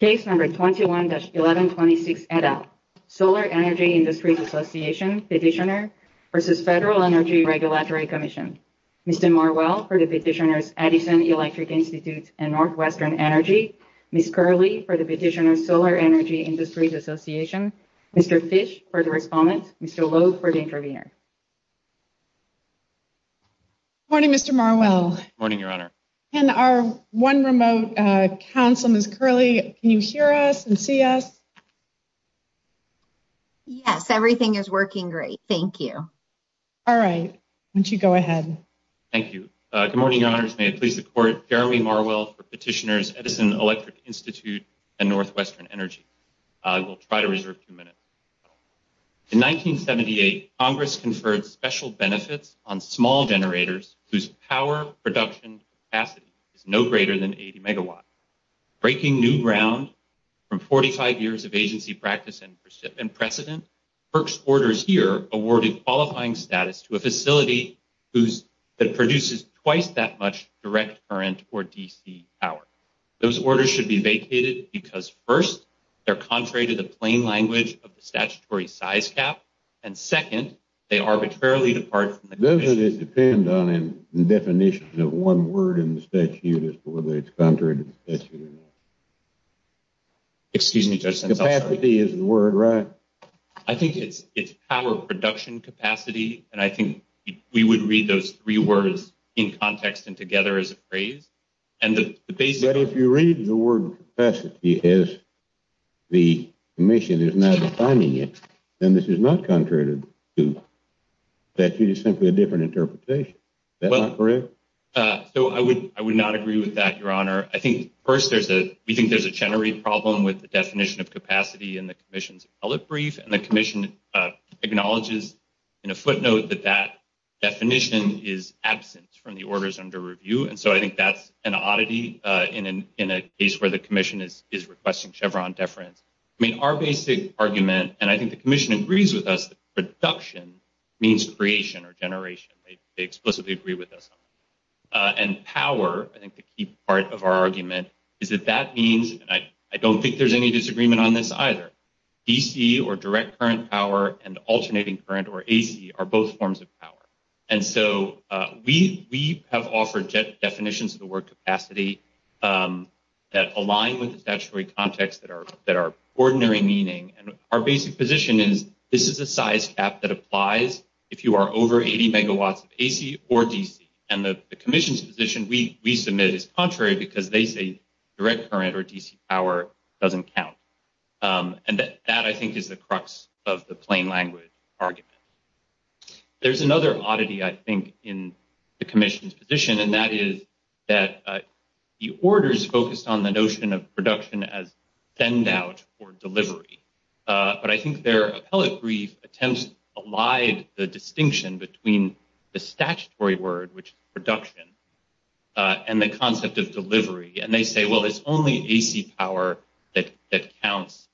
21-1126, Solar Energy Industries Association, Petitioner, v. FEDERAL ENERGY REGULATORY COMMISSION Mr. Marwell, for the Petitioners Edison Electric Institute and Northwestern Energy Ms. Curley, for the Petitioners Solar Energy Industries Association Mr. Fish, for the Respondent Mr. Lowe, for the Intervenor Morning, Mr. Marwell Morning, Your Honor And our one remote counsel, Ms. Curley, can you hear us and see us? Yes, everything is working great, thank you All right, why don't you go ahead Thank you Good morning, Your Honors May it please the Court Garry Marwell, for Petitioners Edison Electric Institute and Northwestern Energy We'll try to reserve two minutes In 1978, Congress conferred special benefits on small generators whose power production capacity is no greater than 80 megawatts Breaking new ground from 45 years of agency practice and precedent, FERC's orders here awarded qualifying status to a facility that produces twice that much direct current, or DC, power Those orders should be vacated because, first, they're contrary to the plain language of the statutory size cap, and second, they arbitrarily depart from the convention Doesn't it depend on the definition of one word in the statute as to whether it's contrary to the statute or not? Excuse me, Judge, since I'm sorry Capacity is the word, right? I think it's power production capacity, and I think we would read those three words in context and together as a phrase But if you read the word capacity as the commission is now defining it, then this is not contrary to the statute, it's simply a different interpretation Is that not correct? So I would not agree with that, Your Honor I think, first, we think there's a generative problem with the definition of capacity in the commission's appellate brief And the commission acknowledges in a footnote that that definition is absent from the orders under review And so I think that's an oddity in a case where the commission is requesting Chevron deference I mean, our basic argument, and I think the commission agrees with us, that production means creation or generation They explicitly agree with us on that And power, I think the key part of our argument, is that that means, and I don't think there's any disagreement on this either DC or direct current power and alternating current or AC are both forms of power And so we have offered definitions of the word capacity that align with the statutory context that are ordinary meaning And our basic position is this is a size cap that applies if you are over 80 megawatts of AC or DC And the commission's position we submit is contrary because they say direct current or DC power doesn't count And that, I think, is the crux of the plain language argument There's another oddity, I think, in the commission's position And that is that the orders focused on the notion of production as send out or delivery But I think their appellate brief attempts allied the distinction between the statutory word, which is production, and the concept of delivery And they say, well, it's only AC power that counts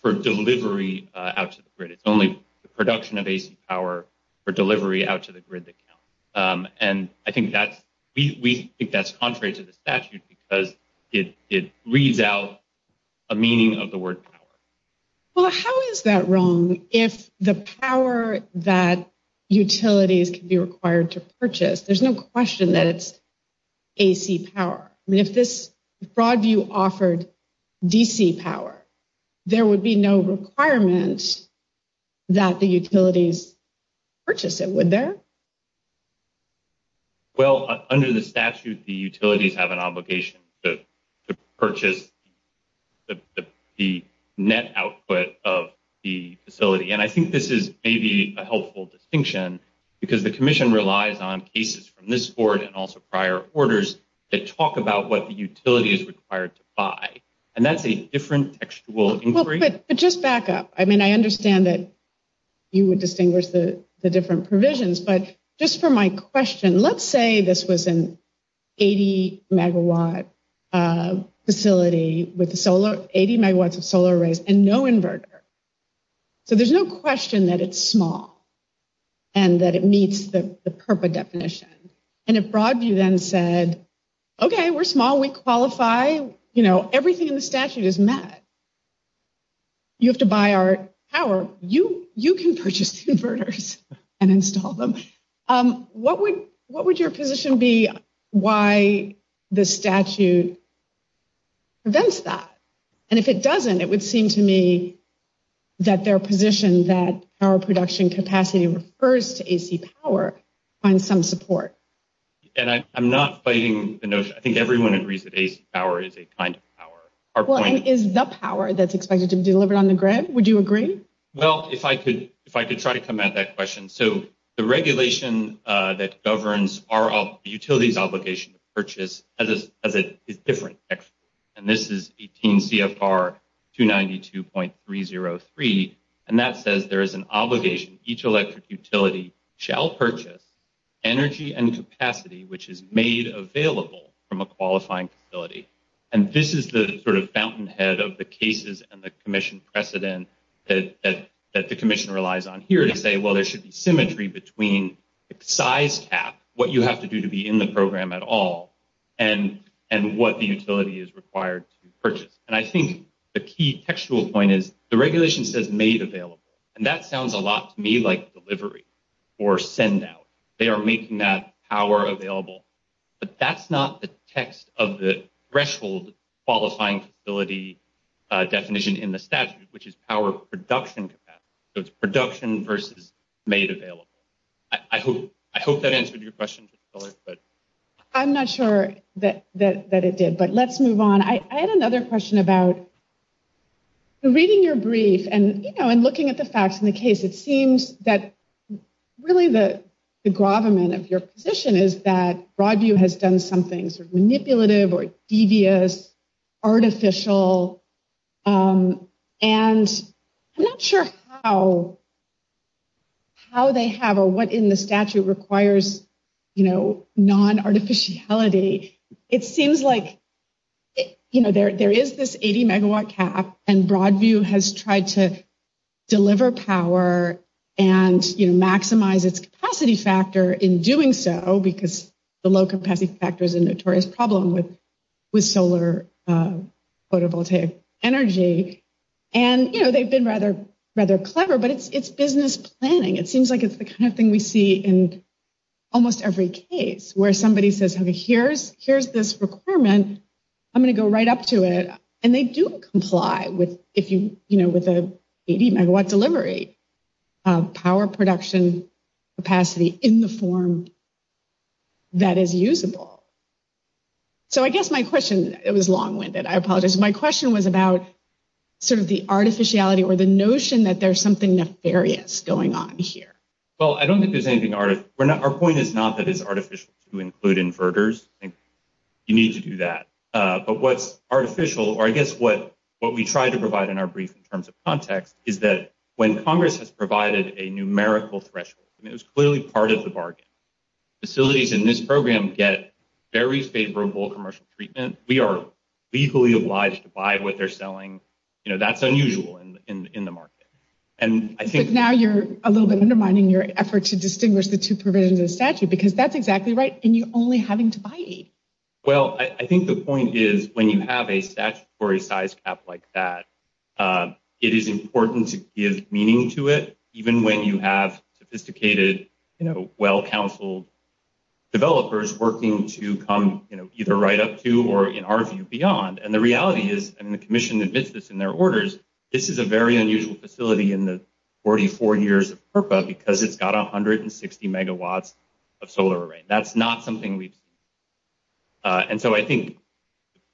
for delivery out to the grid It's only the production of AC power for delivery out to the grid that counts And I think that's, we think that's contrary to the statute because it reads out a meaning of the word power Well, how is that wrong if the power that utilities can be required to purchase, there's no question that it's AC power I mean, if this broad view offered DC power, there would be no requirement that the utilities purchase it, would there? Well, under the statute, the utilities have an obligation to purchase the net output of the facility And I think this is maybe a helpful distinction because the commission relies on cases from this board And also prior orders that talk about what the utility is required to buy And that's a different textual inquiry But just back up, I mean, I understand that you would distinguish the different provisions But just for my question, let's say this was an 80 megawatt facility with 80 megawatts of solar arrays and no inverter So there's no question that it's small and that it meets the PURPA definition And if broad view then said, OK, we're small, we qualify, you know, everything in the statute is met You have to buy our power, you can purchase inverters and install them What would your position be why the statute prevents that? And if it doesn't, it would seem to me that their position that our production capacity refers to AC power finds some support And I'm not fighting the notion, I think everyone agrees that AC power is a kind of power Well, and is the power that's expected to be delivered on the grid, would you agree? Well, if I could try to come at that question So the regulation that governs our utilities obligation to purchase is different And this is 18 CFR 292.303 And that says there is an obligation, each electric utility shall purchase energy and capacity, which is made available from a qualifying facility And this is the sort of fountainhead of the cases and the commission precedent that the commission relies on here to say, well, there should be symmetry between size cap What you have to do to be in the program at all and and what the utility is required to purchase And I think the key textual point is the regulation says made available And that sounds a lot to me like delivery or send out They are making that power available, but that's not the text of the threshold qualifying facility definition in the statute, which is power production capacity So it's production versus made available I hope I hope that answered your question, but I'm not sure that that it did, but let's move on I had another question about. Reading your brief and looking at the facts in the case, it seems that really the gravamen of your position is that Broadview has done something manipulative or devious, artificial And I'm not sure how how they have or what in the statute requires, you know, non artificiality It seems like, you know, there is this 80 megawatt cap and Broadview has tried to deliver power and maximize its capacity factor in doing so Because the low capacity factor is a notorious problem with with solar photovoltaic energy And, you know, they've been rather rather clever, but it's it's business planning It seems like it's the kind of thing we see in almost every case where somebody says, OK, here's here's this requirement I'm going to go right up to it and they do comply with if you know, with a 80 megawatt delivery power production capacity in the form. That is usable. So I guess my question, it was long winded, I apologize, my question was about sort of the artificiality or the notion that there's something nefarious going on here Well, I don't think there's anything out of our point is not that it's artificial to include inverters and you need to do that But what's artificial or I guess what what we try to provide in our brief in terms of context is that when Congress has provided a numerical threshold, it was clearly part of the bargain Facilities in this program get very favorable commercial treatment. We are legally obliged to buy what they're selling. You know, that's unusual in the market. And I think now you're a little bit undermining your effort to distinguish the two provisions of statute, because that's exactly right. And you only having to buy. Well, I think the point is, when you have a statutory size cap like that, it is important to give meaning to it. Even when you have sophisticated, well-counseled developers working to come either right up to or, in our view, beyond. And the reality is, and the commission admits this in their orders, this is a very unusual facility in the 44 years of PURPA because it's got 160 megawatts of solar array. That's not something we've seen. And so I think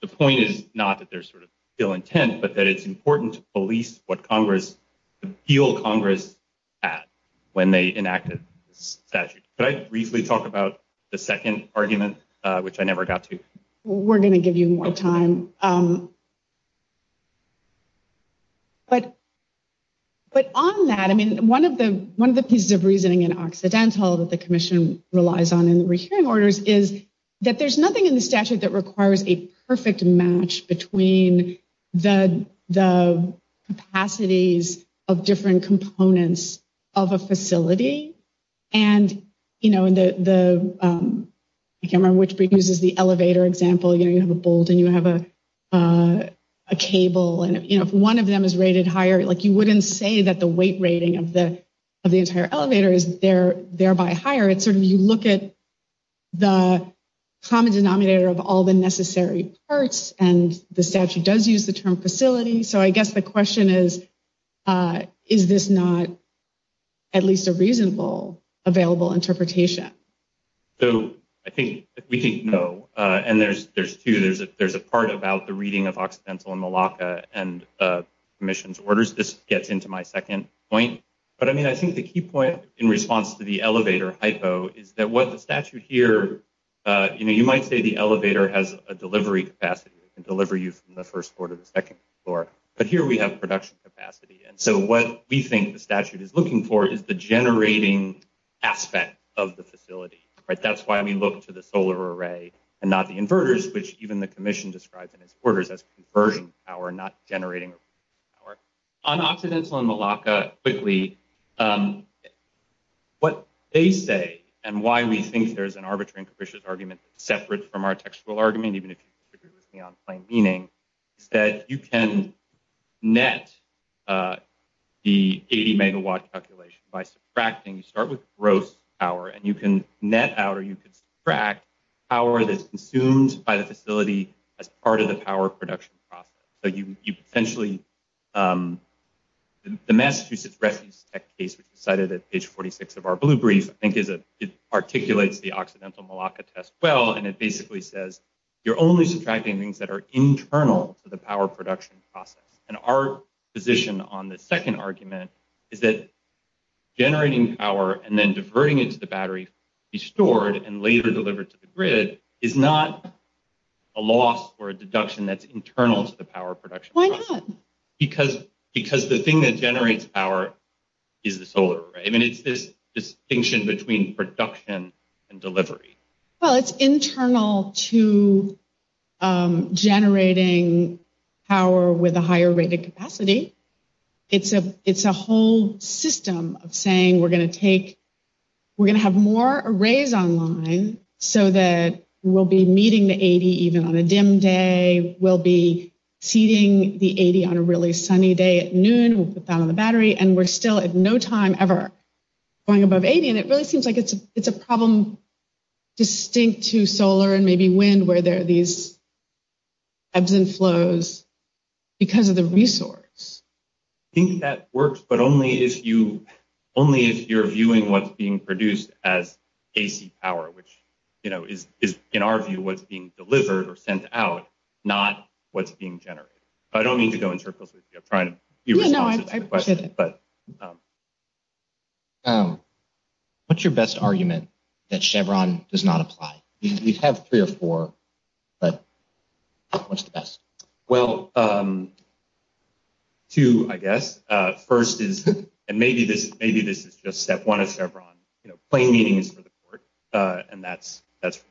the point is not that there's sort of ill intent, but that it's important to police what Congress, the appeal Congress had when they enacted the statute. Could I briefly talk about the second argument, which I never got to? We're going to give you more time. But on that, I mean, one of the pieces of reasoning in Occidental that the commission relies on in the re-hearing orders is that there's nothing in the statute that requires a perfect match between the capacities of different components of a facility. And I can't remember which uses the elevator example. You have a bolt and you have a cable. And if one of them is rated higher, you wouldn't say that the weight rating of the entire elevator is thereby higher. It's sort of you look at the common denominator of all the necessary parts, and the statute does use the term facility. So I guess the question is, is this not at least a reasonable available interpretation? So I think we think no. And there's there's two. There's a there's a part about the reading of Occidental and Malacca and commission's orders. This gets into my second point. But, I mean, I think the key point in response to the elevator hypo is that what the statute here. You know, you might say the elevator has a delivery capacity and deliver you from the first floor to the second floor. But here we have production capacity. And so what we think the statute is looking for is the generating aspect of the facility. Right. That's why we look to the solar array and not the inverters, which even the commission describes in its orders as conversion power, not generating power. On Occidental and Malacca, quickly, what they say and why we think there's an arbitrary and capricious argument separate from our textual argument, even if you agree with me on plain meaning, is that you can net the 80 megawatt calculation by subtracting. You start with gross power and you can net out or you can subtract power that's consumed by the facility as part of the power production process. So you essentially. The Massachusetts Refuse Tech case, which is cited at page 46 of our blue brief, I think is it articulates the Occidental Malacca test well, and it basically says you're only subtracting things that are internal to the power production process. And our position on the second argument is that generating power and then diverting it to the battery, be stored and later delivered to the grid is not a loss or a deduction that's internal to the power production. Why not? Because because the thing that generates power is the solar. I mean, it's this distinction between production and delivery. Well, it's internal to generating power with a higher rated capacity. It's a it's a whole system of saying we're going to take we're going to have more arrays online so that we'll be meeting the 80 even on a dim day. We'll be seating the 80 on a really sunny day at noon. We'll put that on the battery and we're still at no time ever going above 80. And it really seems like it's a it's a problem distinct to solar and maybe wind where there are these ebbs and flows because of the resource. I think that works, but only if you only if you're viewing what's being produced as AC power, which is in our view what's being delivered or sent out, not what's being generated. I don't mean to go in circles with you. I'm trying to know, but. What's your best argument that Chevron does not apply? We have three or four, but what's the best? Well. Two, I guess first is and maybe this maybe this is just step one of Chevron plane meetings for the court. And that's that's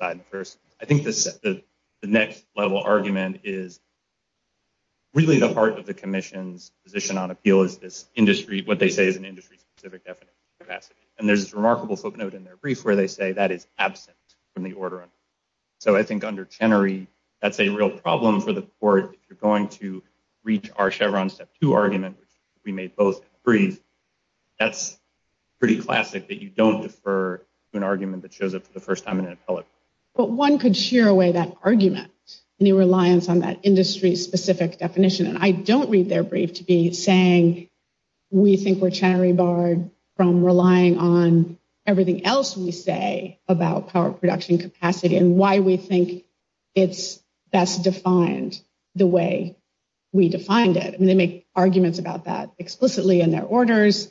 the first. I think the next level argument is. Really, the heart of the commission's position on appeal is this industry, what they say is an industry specific. And there's this remarkable footnote in their brief where they say that is absent from the order. So I think under Chenery, that's a real problem for the court. If you're going to reach our Chevron step to argument, we may both breathe. That's pretty classic that you don't defer an argument that shows up for the first time in an appellate. But one could shear away that argument and the reliance on that industry specific definition. And I don't read their brief to be saying we think we're Chenery barred from relying on everything else we say about power production capacity and why we think it's best defined. The way we defined it and they make arguments about that explicitly in their orders.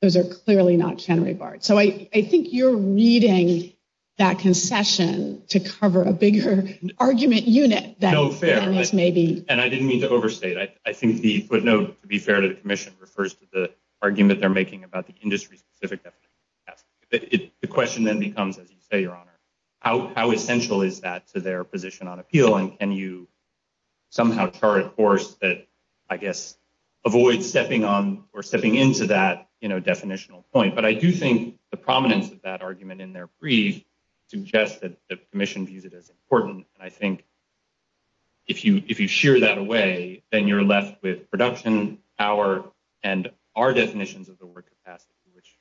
Those are clearly not Chenery barred. So I think you're reading that concession to cover a bigger argument unit. That's maybe. And I didn't mean to overstate. I think the footnote to be fair to the commission refers to the argument they're making about the industry specific. The question then becomes, as you say, your honor, how essential is that to their position on appeal? And can you somehow chart a course that I guess avoid stepping on or stepping into that definitional point? But I do think the prominence of that argument in their brief suggested the commission views it as important. And I think. If you if you share that away, then you're left with production, our and our definitions of the work capacity, which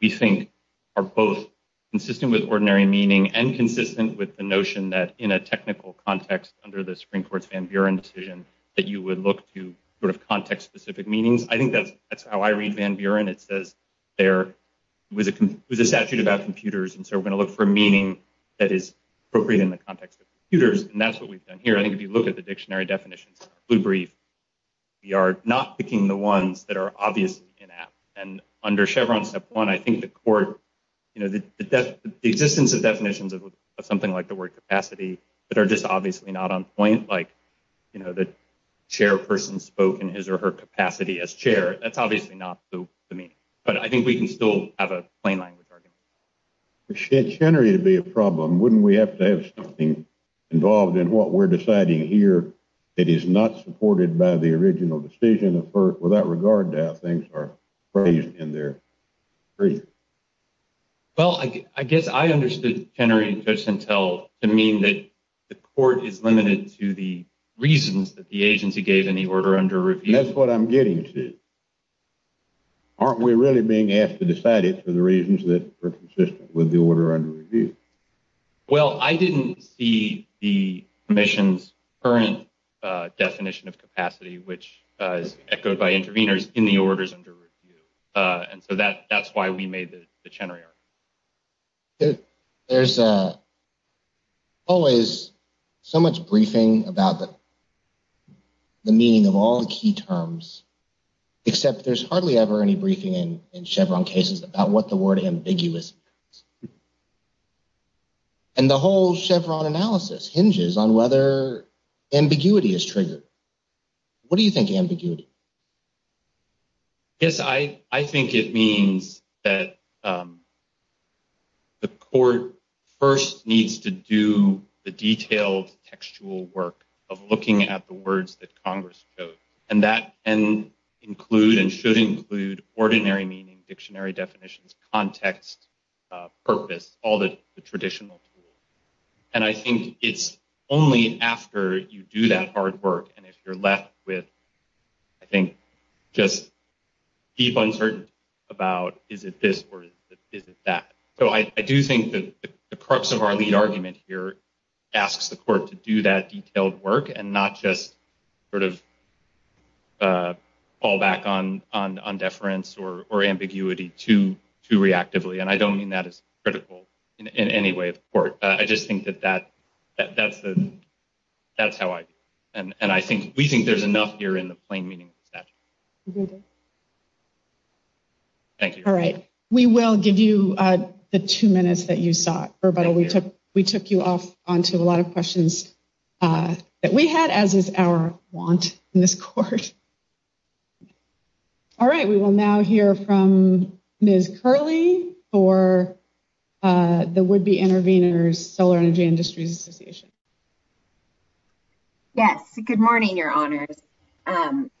we think are both consistent with ordinary meaning and consistent with the notion that in a technical context, under the Supreme Court's Van Buren decision that you would look to sort of context specific meanings. I think that's how I read Van Buren. It says there was a statute about computers. And so we're going to look for meaning that is appropriate in the context of computers. And that's what we've done here. I think if you look at the dictionary definitions, we breathe. We are not picking the ones that are obvious in that. And under Chevron step one, I think the court, you know, the existence of definitions of something like the word capacity that are just obviously not on point. Like, you know, the chairperson spoke in his or her capacity as chair. That's obviously not the meaning. But I think we can still have a plain language argument. It's generally to be a problem. Wouldn't we have to have something involved in what we're deciding here? It is not supported by the original decision effort without regard to how things are phrased in there. Well, I guess I understood Henry just until the mean that the court is limited to the reasons that the agency gave in the order under review. That's what I'm getting to. Aren't we really being asked to decide it for the reasons that were consistent with the order under review? Well, I didn't see the commission's current definition of capacity, which is echoed by interveners in the orders under review. And so that that's why we made the Chenery. There's always so much briefing about the meaning of all the key terms, except there's hardly ever any briefing in Chevron cases about what the word ambiguous. And the whole Chevron analysis hinges on whether ambiguity is triggered. What do you think ambiguity? Yes, I, I think it means that. The court first needs to do the detailed textual work of looking at the words that Congress and that and include and should include ordinary meaning, dictionary definitions, context, purpose, all the traditional. And I think it's only after you do that hard work. And if you're left with, I think, just deep uncertainty about is it this or is it that? So I do think that the crux of our lead argument here asks the court to do that detailed work and not just sort of fall back on on deference or ambiguity to to reactively. And I don't mean that is critical in any way of court. I just think that that that's the that's how I. And I think we think there's enough here in the plain meaning. Thank you. All right. We will give you the two minutes that you saw. But we took we took you off onto a lot of questions that we had, as is our want in this court. All right, we will now hear from Ms. Curley for the would be intervenors, Solar Energy Industries Association. Yes, good morning, your honors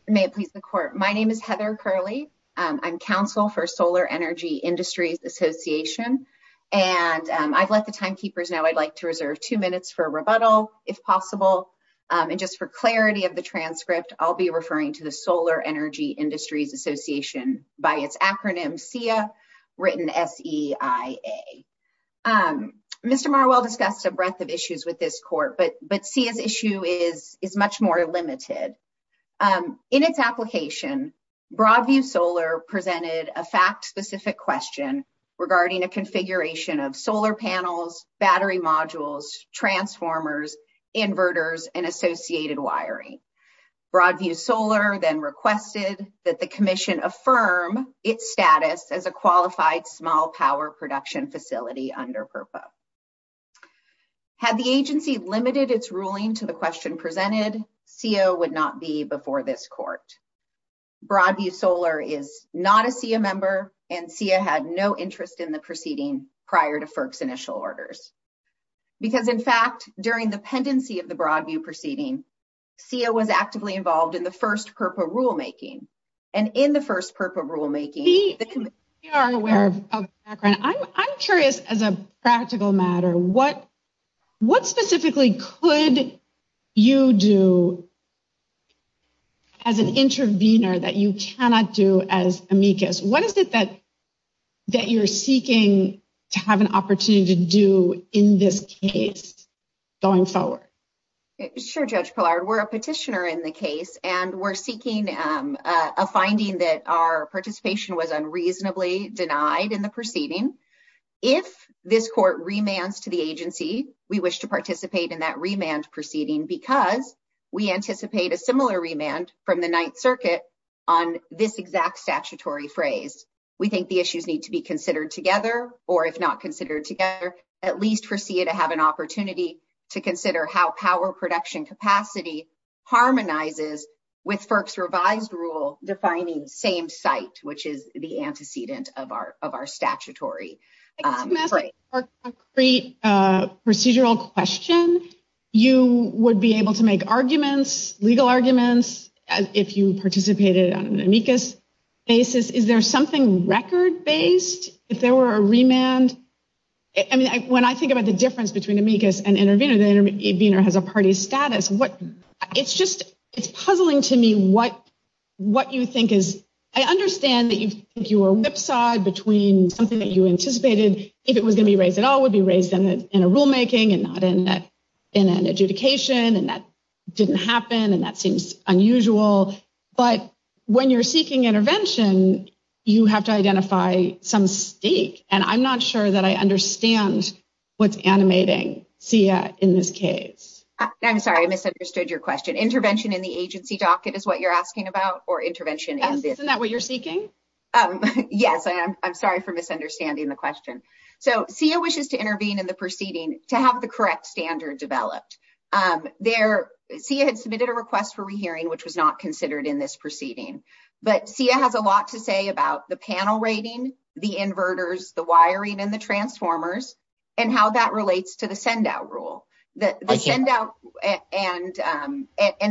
may please the court. My name is Heather Curley. I'm counsel for Solar Energy Industries Association, and I've let the time keepers now I'd like to reserve two minutes for rebuttal if possible. And just for clarity of the transcript, I'll be referring to the Solar Energy Industries Association by its acronym SIA written S.E.I.A. Mr. Marwell discussed a breadth of issues with this court, but but see his issue is is much more limited in its application. Broadview Solar presented a fact specific question regarding a configuration of solar panels, battery modules, transformers, inverters and associated wiring. Broadview Solar then requested that the commission affirm its status as a qualified small power production facility under purpose. Had the agency limited its ruling to the question presented, CO would not be before this court. Broadview Solar is not a SIA member and SIA had no interest in the proceeding prior to FERC's initial orders. Because, in fact, during the pendency of the Broadview proceeding, SIA was actively involved in the first PURPA rulemaking and in the first PURPA rulemaking. We are aware of background. I'm curious, as a practical matter, what what specifically could you do? As an intervener that you cannot do as amicus, what is it that that you're seeking to have an opportunity to do in this case going forward? Sure, Judge Pillard, we're a petitioner in the case, and we're seeking a finding that our participation was unreasonably denied in the proceeding. If this court remands to the agency, we wish to participate in that remand proceeding because we anticipate a similar remand from the 9th Circuit on this exact statutory phrase. We think the issues need to be considered together, or if not considered together, at least for SIA to have an opportunity to consider how power production capacity harmonizes with FERC's revised rule defining same site, which is the antecedent of our statutory phrase. To answer your concrete procedural question, you would be able to make arguments, legal arguments, if you participated on an amicus basis. Is there something record based if there were a remand? When I think about the difference between amicus and intervener, the intervener has a party status. It's puzzling to me what you think is, I understand that you think you were whipsawed between something that you anticipated, if it was going to be raised at all, would be raised in a rulemaking and not in an adjudication, and that didn't happen, and that seems unusual. But when you're seeking intervention, you have to identify some stake, and I'm not sure that I understand what's animating SIA in this case. I'm sorry, I misunderstood your question. Intervention in the agency docket is what you're asking about, or intervention in this? Isn't that what you're seeking? Yes, I'm sorry for misunderstanding the question. So, SIA wishes to intervene in the proceeding to have the correct standard developed. SIA had submitted a request for rehearing, which was not considered in this proceeding, but SIA has a lot to say about the panel rating, the inverters, the wiring, and the transformers, and how that relates to the send out rule. And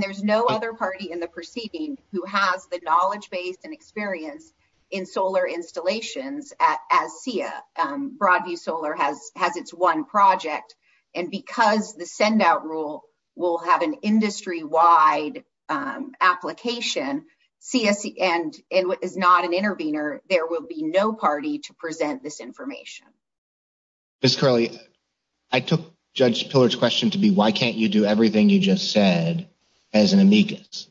there's no other party in the proceeding who has the knowledge base and experience in solar installations as SIA. Broadview Solar has its one project, and because the send out rule will have an industry-wide application, and is not an intervener, there will be no party to present this information. Ms. Curley, I took Judge Pillard's question to be, why can't you do everything you just said as an amicus?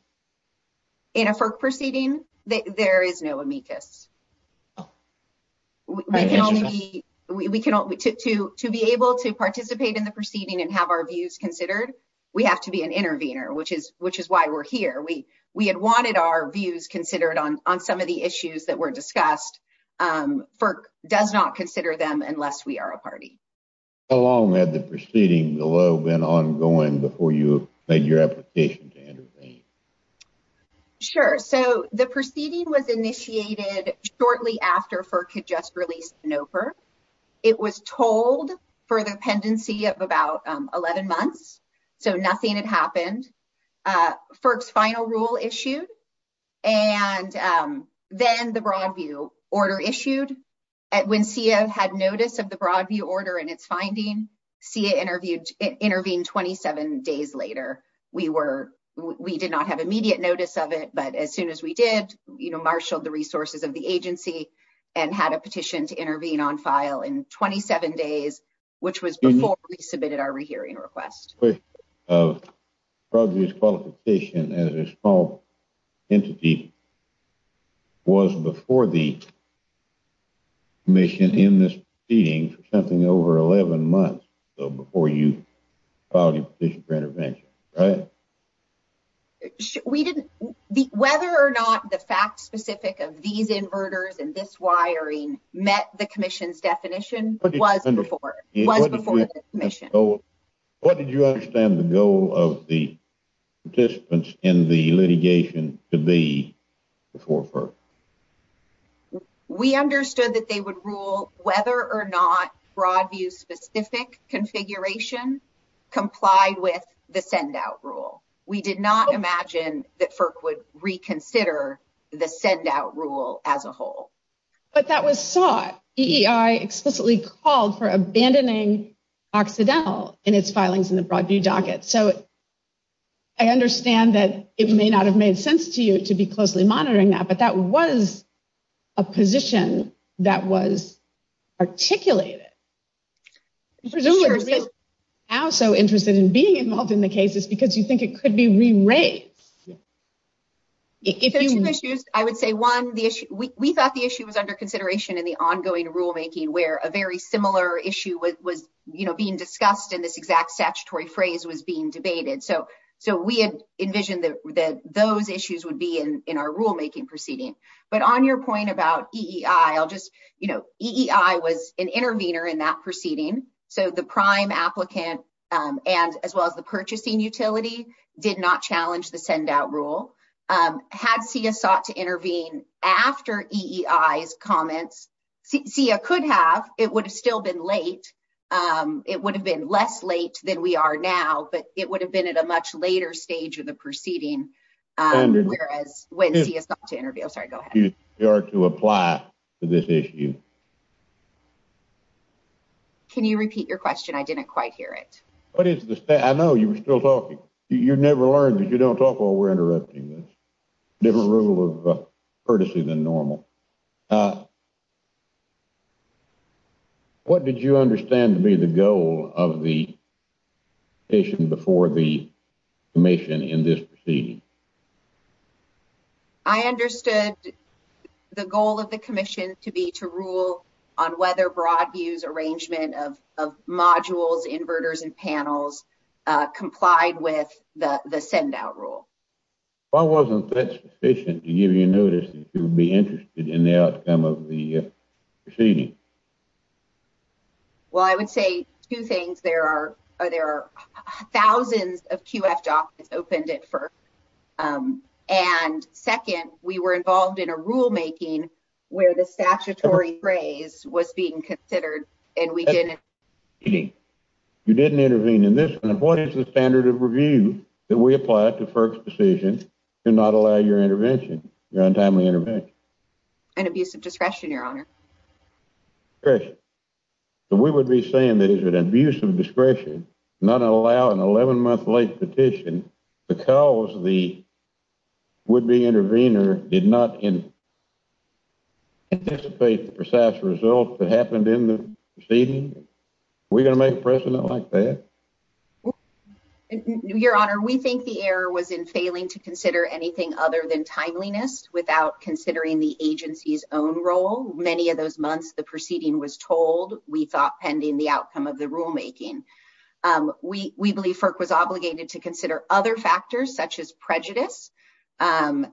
In a FERC proceeding, there is no amicus. To be able to participate in the proceeding and have our views considered, we have to be an intervener, which is why we're here. We had wanted our views considered on some of the issues that were discussed. FERC does not consider them unless we are a party. How long had the proceeding been ongoing before you made your application to intervene? Sure. So, the proceeding was initiated shortly after FERC had just released NOPR. It was told for the pendency of about 11 months, so nothing had happened. FERC's final rule issued, and then the Broadview order issued. When SIA had notice of the Broadview order and its finding, SIA intervened 27 days later. We did not have immediate notice of it, but as soon as we did, marshaled the resources of the agency and had a petition to intervene on file in 27 days, which was before we submitted our rehearing request. The question of Broadview's qualification as a small entity was before the commission in this proceeding for something over 11 months, so before you filed your petition for intervention, right? Whether or not the facts specific of these inverters and this wiring met the commission's definition was before the commission. What did you understand the goal of the participants in the litigation to be before FERC? We understood that they would rule whether or not Broadview's specific configuration complied with the send-out rule. We did not imagine that FERC would reconsider the send-out rule as a whole. But that was sought. EEI explicitly called for abandoning Occidental in its filings in the Broadview docket, so I understand that it may not have made sense to you to be closely monitoring that, but that was a position that was articulated. Presumably, you're now so interested in being involved in the cases because you think it could be re-raised. If there are two issues, I would say one, we thought the issue was under consideration in the ongoing rulemaking where a very similar issue was being discussed and this exact statutory phrase was being debated. So we had envisioned that those issues would be in our rulemaking proceeding. But on your point about EEI, EEI was an intervener in that proceeding, so the prime applicant as well as the purchasing utility did not challenge the send-out rule. Had CEA sought to intervene after EEI's comments, CEA could have. It would have still been late. It would have been less late than we are now, but it would have been at a much later stage of the proceeding. Whereas when CEA sought to intervene. I'm sorry, go ahead. You are to apply to this issue. Can you repeat your question? I didn't quite hear it. I know you were still talking. You never learned that you don't talk while we're interrupting this. Different rule of courtesy than normal. What did you understand to be the goal of the commission before the commission in this proceeding? I understood the goal of the commission to be to rule on whether broad views arrangement of modules, inverters and panels complied with the send-out rule. Why wasn't that sufficient to give you notice that you would be interested in the outcome of the proceeding? Well, I would say two things. There are thousands of QF documents opened at FERC. And second, we were involved in a rulemaking where the statutory phrase was being considered and we didn't. You didn't intervene in this one. What is the standard of review that we apply to FERC's decision to not allow your intervention, your untimely intervention? An abuse of discretion, your honor. Discretion. We would be saying that it is an abuse of discretion not to allow an 11-month late petition because the would-be intervener did not anticipate the precise result that happened in the proceeding? Are we going to make a precedent like that? Your honor, we think the error was in failing to consider anything other than timeliness without considering the agency's own role. In many of those months, the proceeding was told, we thought, pending the outcome of the rulemaking. We believe FERC was obligated to consider other factors such as prejudice. And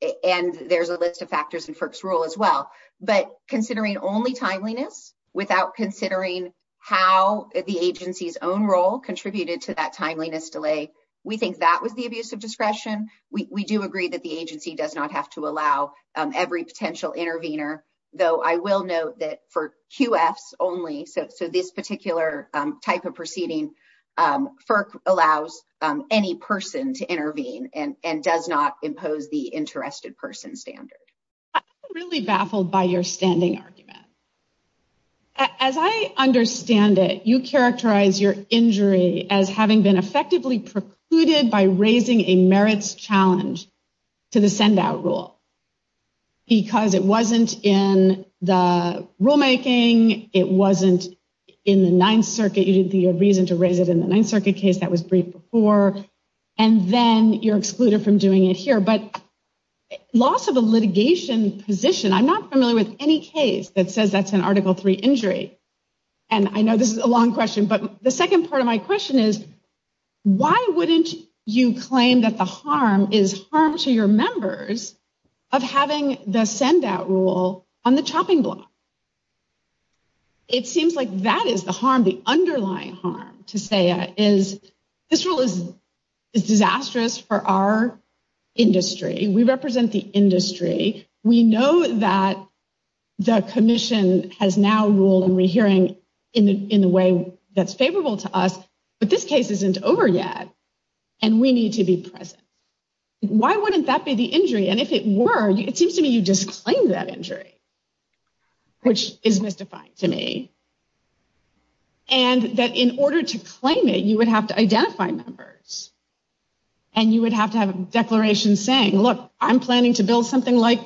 there's a list of factors in FERC's rule as well. But considering only timeliness without considering how the agency's own role contributed to that timeliness delay, we think that was the abuse of discretion. We do agree that the agency does not have to allow every potential intervener, though I will note that for QFs only, so this particular type of proceeding, FERC allows any person to intervene and does not impose the interested person standard. I'm really baffled by your standing argument. As I understand it, you characterize your injury as having been effectively precluded by raising a merits challenge to the send-out rule. Because it wasn't in the rulemaking. It wasn't in the Ninth Circuit. You didn't think you had reason to raise it in the Ninth Circuit case. That was briefed before. And then you're excluded from doing it here. But loss of a litigation position, I'm not familiar with any case that says that's an Article III injury. And I know this is a long question, but the second part of my question is, why wouldn't you claim that the harm is harm to your members of having the send-out rule on the chopping block? It seems like that is the harm, the underlying harm, Taseya, is this rule is disastrous for our industry. We represent the industry. We know that the Commission has now ruled in rehearing in a way that's favorable to us, but this case isn't over yet, and we need to be present. Why wouldn't that be the injury? And if it were, it seems to me you disclaimed that injury. Which is mystifying to me. And that in order to claim it, you would have to identify members. And you would have to have a declaration saying, look, I'm planning to build something like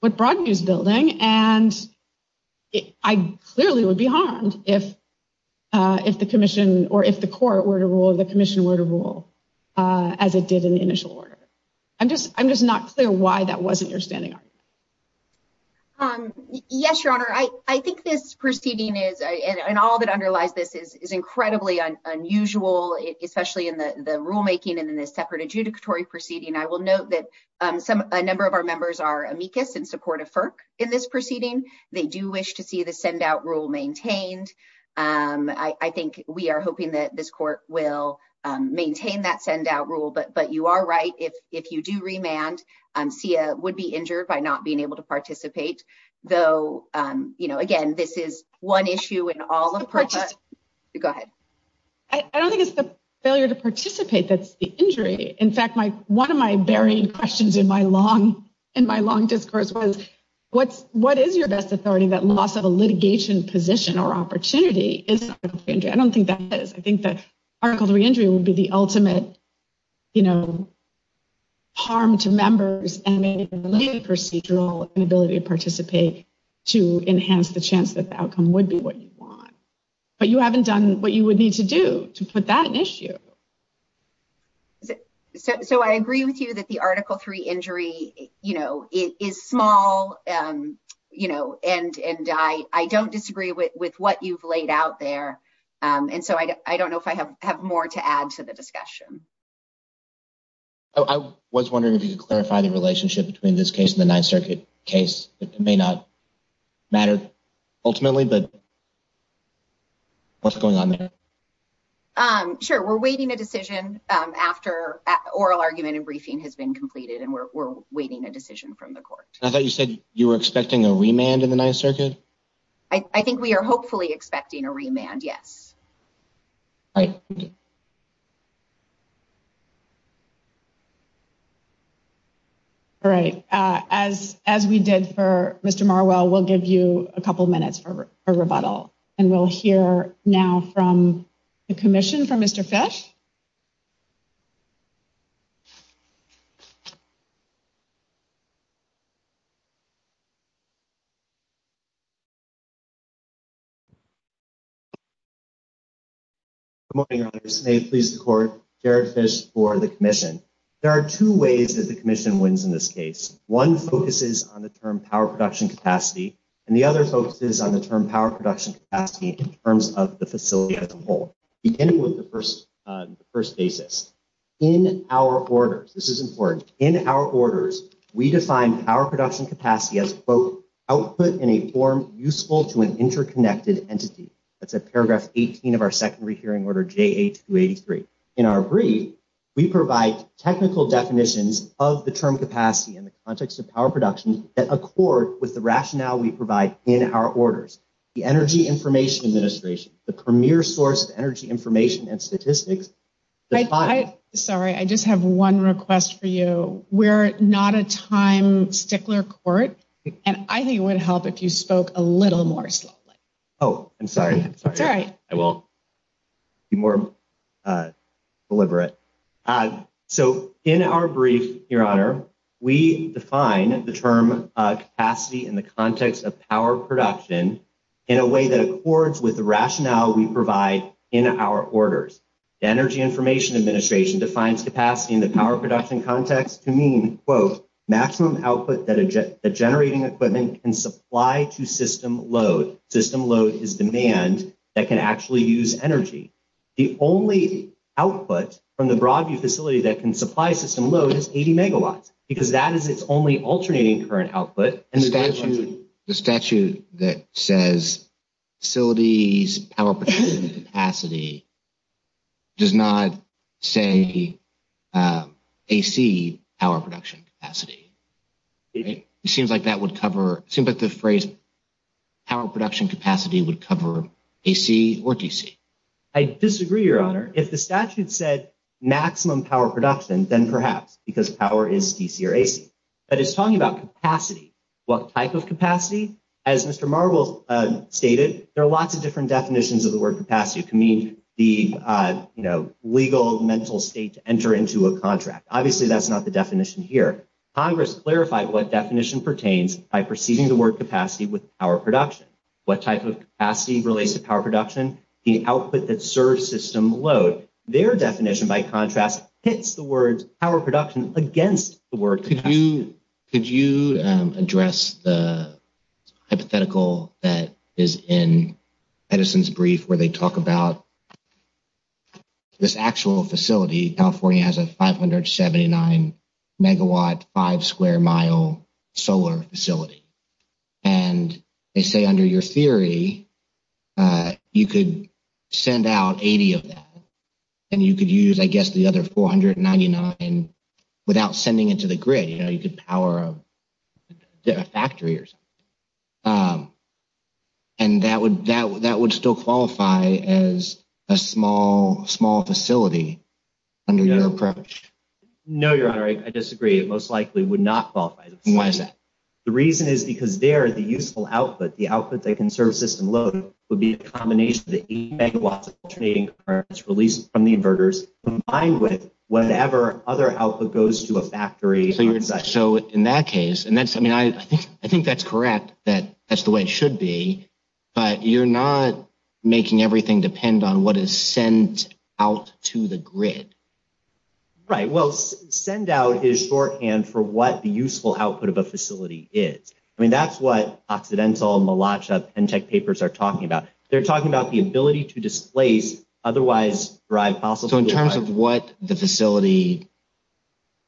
what Broadview's building, and I clearly would be harmed if the Commission or if the Court were to rule or the Commission were to rule as it did in the initial order. I'm just not clear why that wasn't your standing argument. Yes, Your Honor, I think this proceeding is, and all that underlies this is incredibly unusual, especially in the rulemaking and in the separate adjudicatory proceeding. I will note that a number of our members are amicus in support of FERC in this proceeding. They do wish to see the send-out rule maintained. I think we are hoping that this Court will maintain that send-out rule. But you are right, if you do remand, SIA would be injured by not being able to participate. Though, again, this is one issue in all of FERC. Go ahead. I don't think it's the failure to participate that's the injury. In fact, one of my buried questions in my long discourse was, what is your best authority that loss of a litigation position or opportunity is not a re-injury? I don't think that is. I think that Article III injury would be the ultimate harm to members and the procedural inability to participate to enhance the chance that the outcome would be what you want. But you haven't done what you would need to do to put that at issue. So I agree with you that the Article III injury is small, and I don't disagree with what you've laid out there. And so I don't know if I have more to add to the discussion. I was wondering if you could clarify the relationship between this case and the Ninth Circuit case. It may not matter ultimately, but what's going on there? Sure, we're waiting a decision after oral argument and briefing has been completed, and we're waiting a decision from the Court. I thought you said you were expecting a remand in the Ninth Circuit? I think we are hopefully expecting a remand, yes. All right. All right. As we did for Mr. Marwell, we'll give you a couple of minutes for a rebuttal, and we'll hear now from the Commission for Mr. Fish. Good morning, Your Honors. May it please the Court, Jared Fish for the Commission. There are two ways that the Commission wins in this case. One focuses on the term power production capacity, and the other focuses on the term power production capacity in terms of the facility as a whole. Beginning with the first basis. In our orders, this is important, in our orders, we define power production capacity as, quote, output in a form useful to an interconnected entity. That's at paragraph 18 of our Secondary Hearing Order JA-283. In our brief, we provide technical definitions of the term capacity in the context of power production that accord with the rationale we provide in our orders. The Energy Information Administration, the premier source of energy information and statistics. Sorry, I just have one request for you. We're not a time stickler court, and I think it would help if you spoke a little more slowly. Oh, I'm sorry. I'm sorry. It's all right. I will be more deliberate. So in our brief, Your Honor, we define the term capacity in the context of power production in a way that accords with the rationale we provide in our orders. The Energy Information Administration defines capacity in the power production context to mean, quote, maximum output that a generating equipment can supply to system load. System load is demand that can actually use energy. The only output from the Broadview facility that can supply system load is 80 megawatts, because that is its only alternating current output. The statute that says facilities power capacity does not say AC power production capacity. It seems like that would cover the phrase power production capacity would cover AC or DC. I disagree, Your Honor. If the statute said maximum power production, then perhaps because power is DC or AC. But it's talking about capacity. What type of capacity? As Mr. Marble stated, there are lots of different definitions of the word capacity. It can mean the legal mental state to enter into a contract. Obviously, that's not the definition here. Congress clarified what definition pertains by preceding the word capacity with power production. What type of capacity relates to power production? The output that serves system load. Their definition, by contrast, hits the words power production against the word capacity. Could you address the hypothetical that is in Edison's brief where they talk about this actual facility. California has a 579 megawatt, five square mile solar facility. And they say under your theory, you could send out 80 of that. And you could use, I guess, the other 499 without sending it to the grid. To power a factory or something. And that would still qualify as a small facility under your approach. No, Your Honor. I disagree. It most likely would not qualify. Why is that? The reason is because there, the useful output, the output that can serve system load, would be a combination of the 8 megawatts of alternating currents released from the inverters combined with whatever other output goes to a factory. So in that case, and that's, I mean, I think that's correct that that's the way it should be. But you're not making everything depend on what is sent out to the grid. Right. Well, send out is shorthand for what the useful output of a facility is. I mean, that's what Occidental, Malacha, Pentec papers are talking about. They're talking about the ability to displace otherwise derived fossil fuels. So in terms of what the facility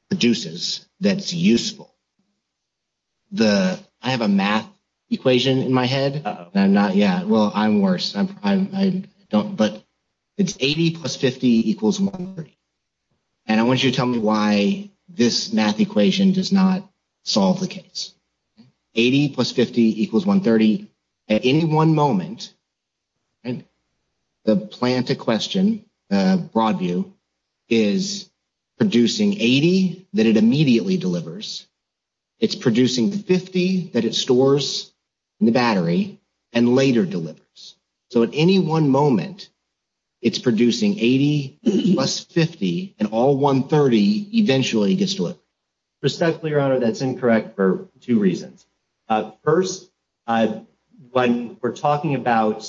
produces that's useful. I have a math equation in my head. Yeah, well, I'm worse. I don't, but it's 80 plus 50 equals 130. And I want you to tell me why this math equation does not solve the case. 80 plus 50 equals 130. At any one moment. And the plant a question. Broadview is producing 80 that it immediately delivers. It's producing 50 that it stores in the battery and later delivers. So at any one moment, it's producing 80 plus 50 and all 130 eventually gets to it. Respectfully, your honor, that's incorrect for two reasons. First, when we're talking about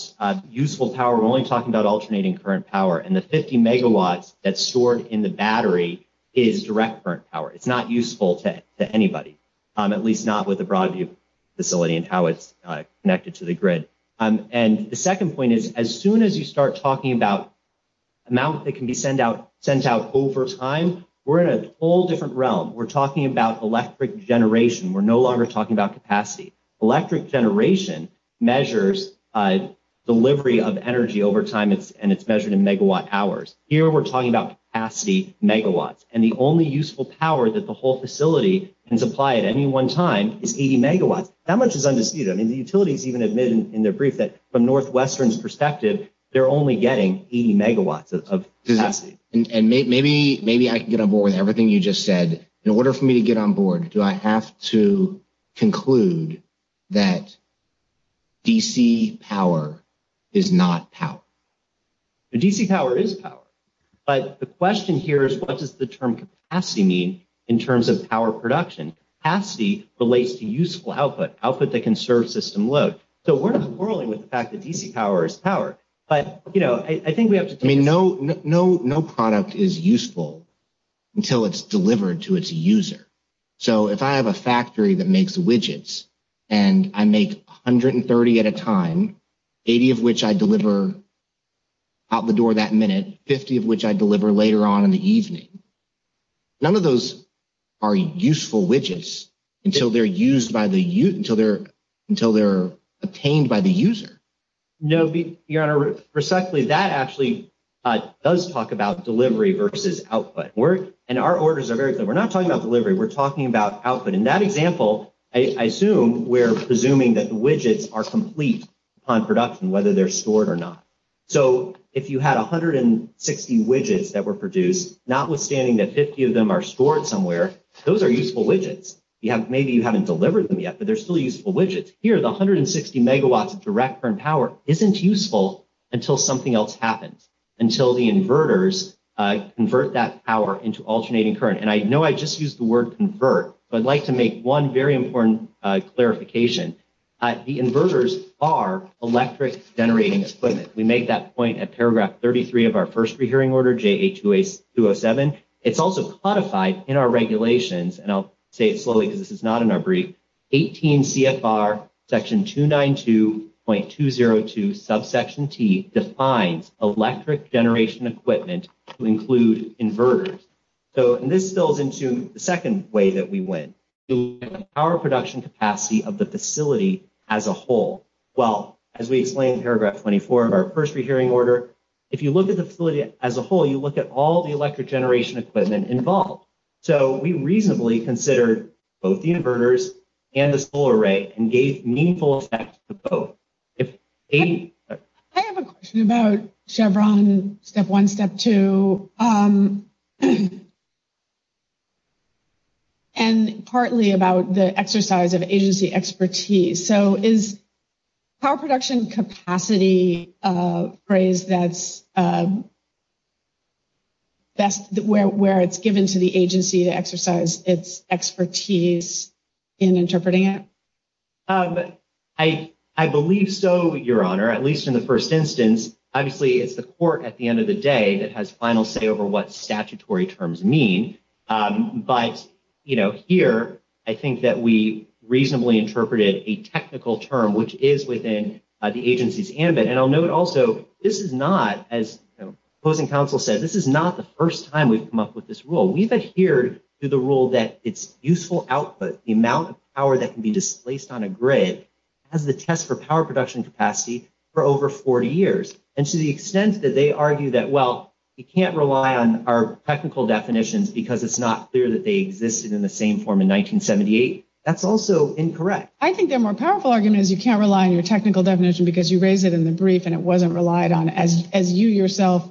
useful power, we're only talking about alternating current power. And the 50 megawatts that's stored in the battery is direct current power. It's not useful to anybody, at least not with a broad view facility and how it's connected to the grid. And the second point is, as soon as you start talking about amount that can be sent out, sent out over time, we're in a whole different realm. We're talking about electric generation. We're no longer talking about capacity. Electric generation measures delivery of energy over time. And it's measured in megawatt hours. Here we're talking about capacity megawatts. And the only useful power that the whole facility can supply at any one time is 80 megawatts. That much is undisputed. I mean, the utilities even admitted in their brief that from Northwestern's perspective, they're only getting 80 megawatts of capacity. And maybe I can get on board with everything you just said. But in order for me to get on board, do I have to conclude that DC power is not power? DC power is power. But the question here is, what does the term capacity mean in terms of power production? Capacity relates to useful output, output that can serve system load. So we're not quarreling with the fact that DC power is power. I mean, no product is useful until it's delivered to its user. So if I have a factory that makes widgets and I make 130 at a time, 80 of which I deliver out the door that minute, 50 of which I deliver later on in the evening, none of those are useful widgets until they're obtained by the user. No, Your Honor, respectfully, that actually does talk about delivery versus output. And our orders are very clear. We're not talking about delivery. We're talking about output. In that example, I assume we're presuming that the widgets are complete on production, whether they're stored or not. So if you had 160 widgets that were produced, notwithstanding that 50 of them are stored somewhere, those are useful widgets. Maybe you haven't delivered them yet, but they're still useful widgets. Here, the 160 megawatts of direct current power isn't useful until something else happens, until the inverters convert that power into alternating current. And I know I just used the word convert, but I'd like to make one very important clarification. The inverters are electric generating equipment. We make that point at paragraph 33 of our first rehearing order, JA-207. It's also codified in our regulations, and I'll say it slowly because this is not in our brief. 18 CFR section 292.202 subsection T defines electric generation equipment to include inverters. So this builds into the second way that we went. Power production capacity of the facility as a whole. Well, as we explained in paragraph 24 of our first rehearing order, if you look at the facility as a whole, you look at all the electric generation equipment involved. So we reasonably considered both the inverters and the solar array and gave meaningful effects to both. I have a question about Chevron step one, step two, and partly about the exercise of agency expertise. So is power production capacity a phrase that's best where it's given to the agency to exercise its expertise in interpreting it? I believe so, Your Honor, at least in the first instance. Obviously, it's the court at the end of the day that has final say over what statutory terms mean. But here, I think that we reasonably interpreted a technical term, which is within the agency's ambit. And I'll note also, this is not, as opposing counsel said, this is not the first time we've come up with this rule. We've adhered to the rule that it's useful output, the amount of power that can be displaced on a grid, has the test for power production capacity for over 40 years. And to the extent that they argue that, well, you can't rely on our technical definitions because it's not clear that they existed in the same form in 1978, that's also incorrect. I think their more powerful argument is you can't rely on your technical definition because you raise it in the brief and it wasn't relied on. As you yourself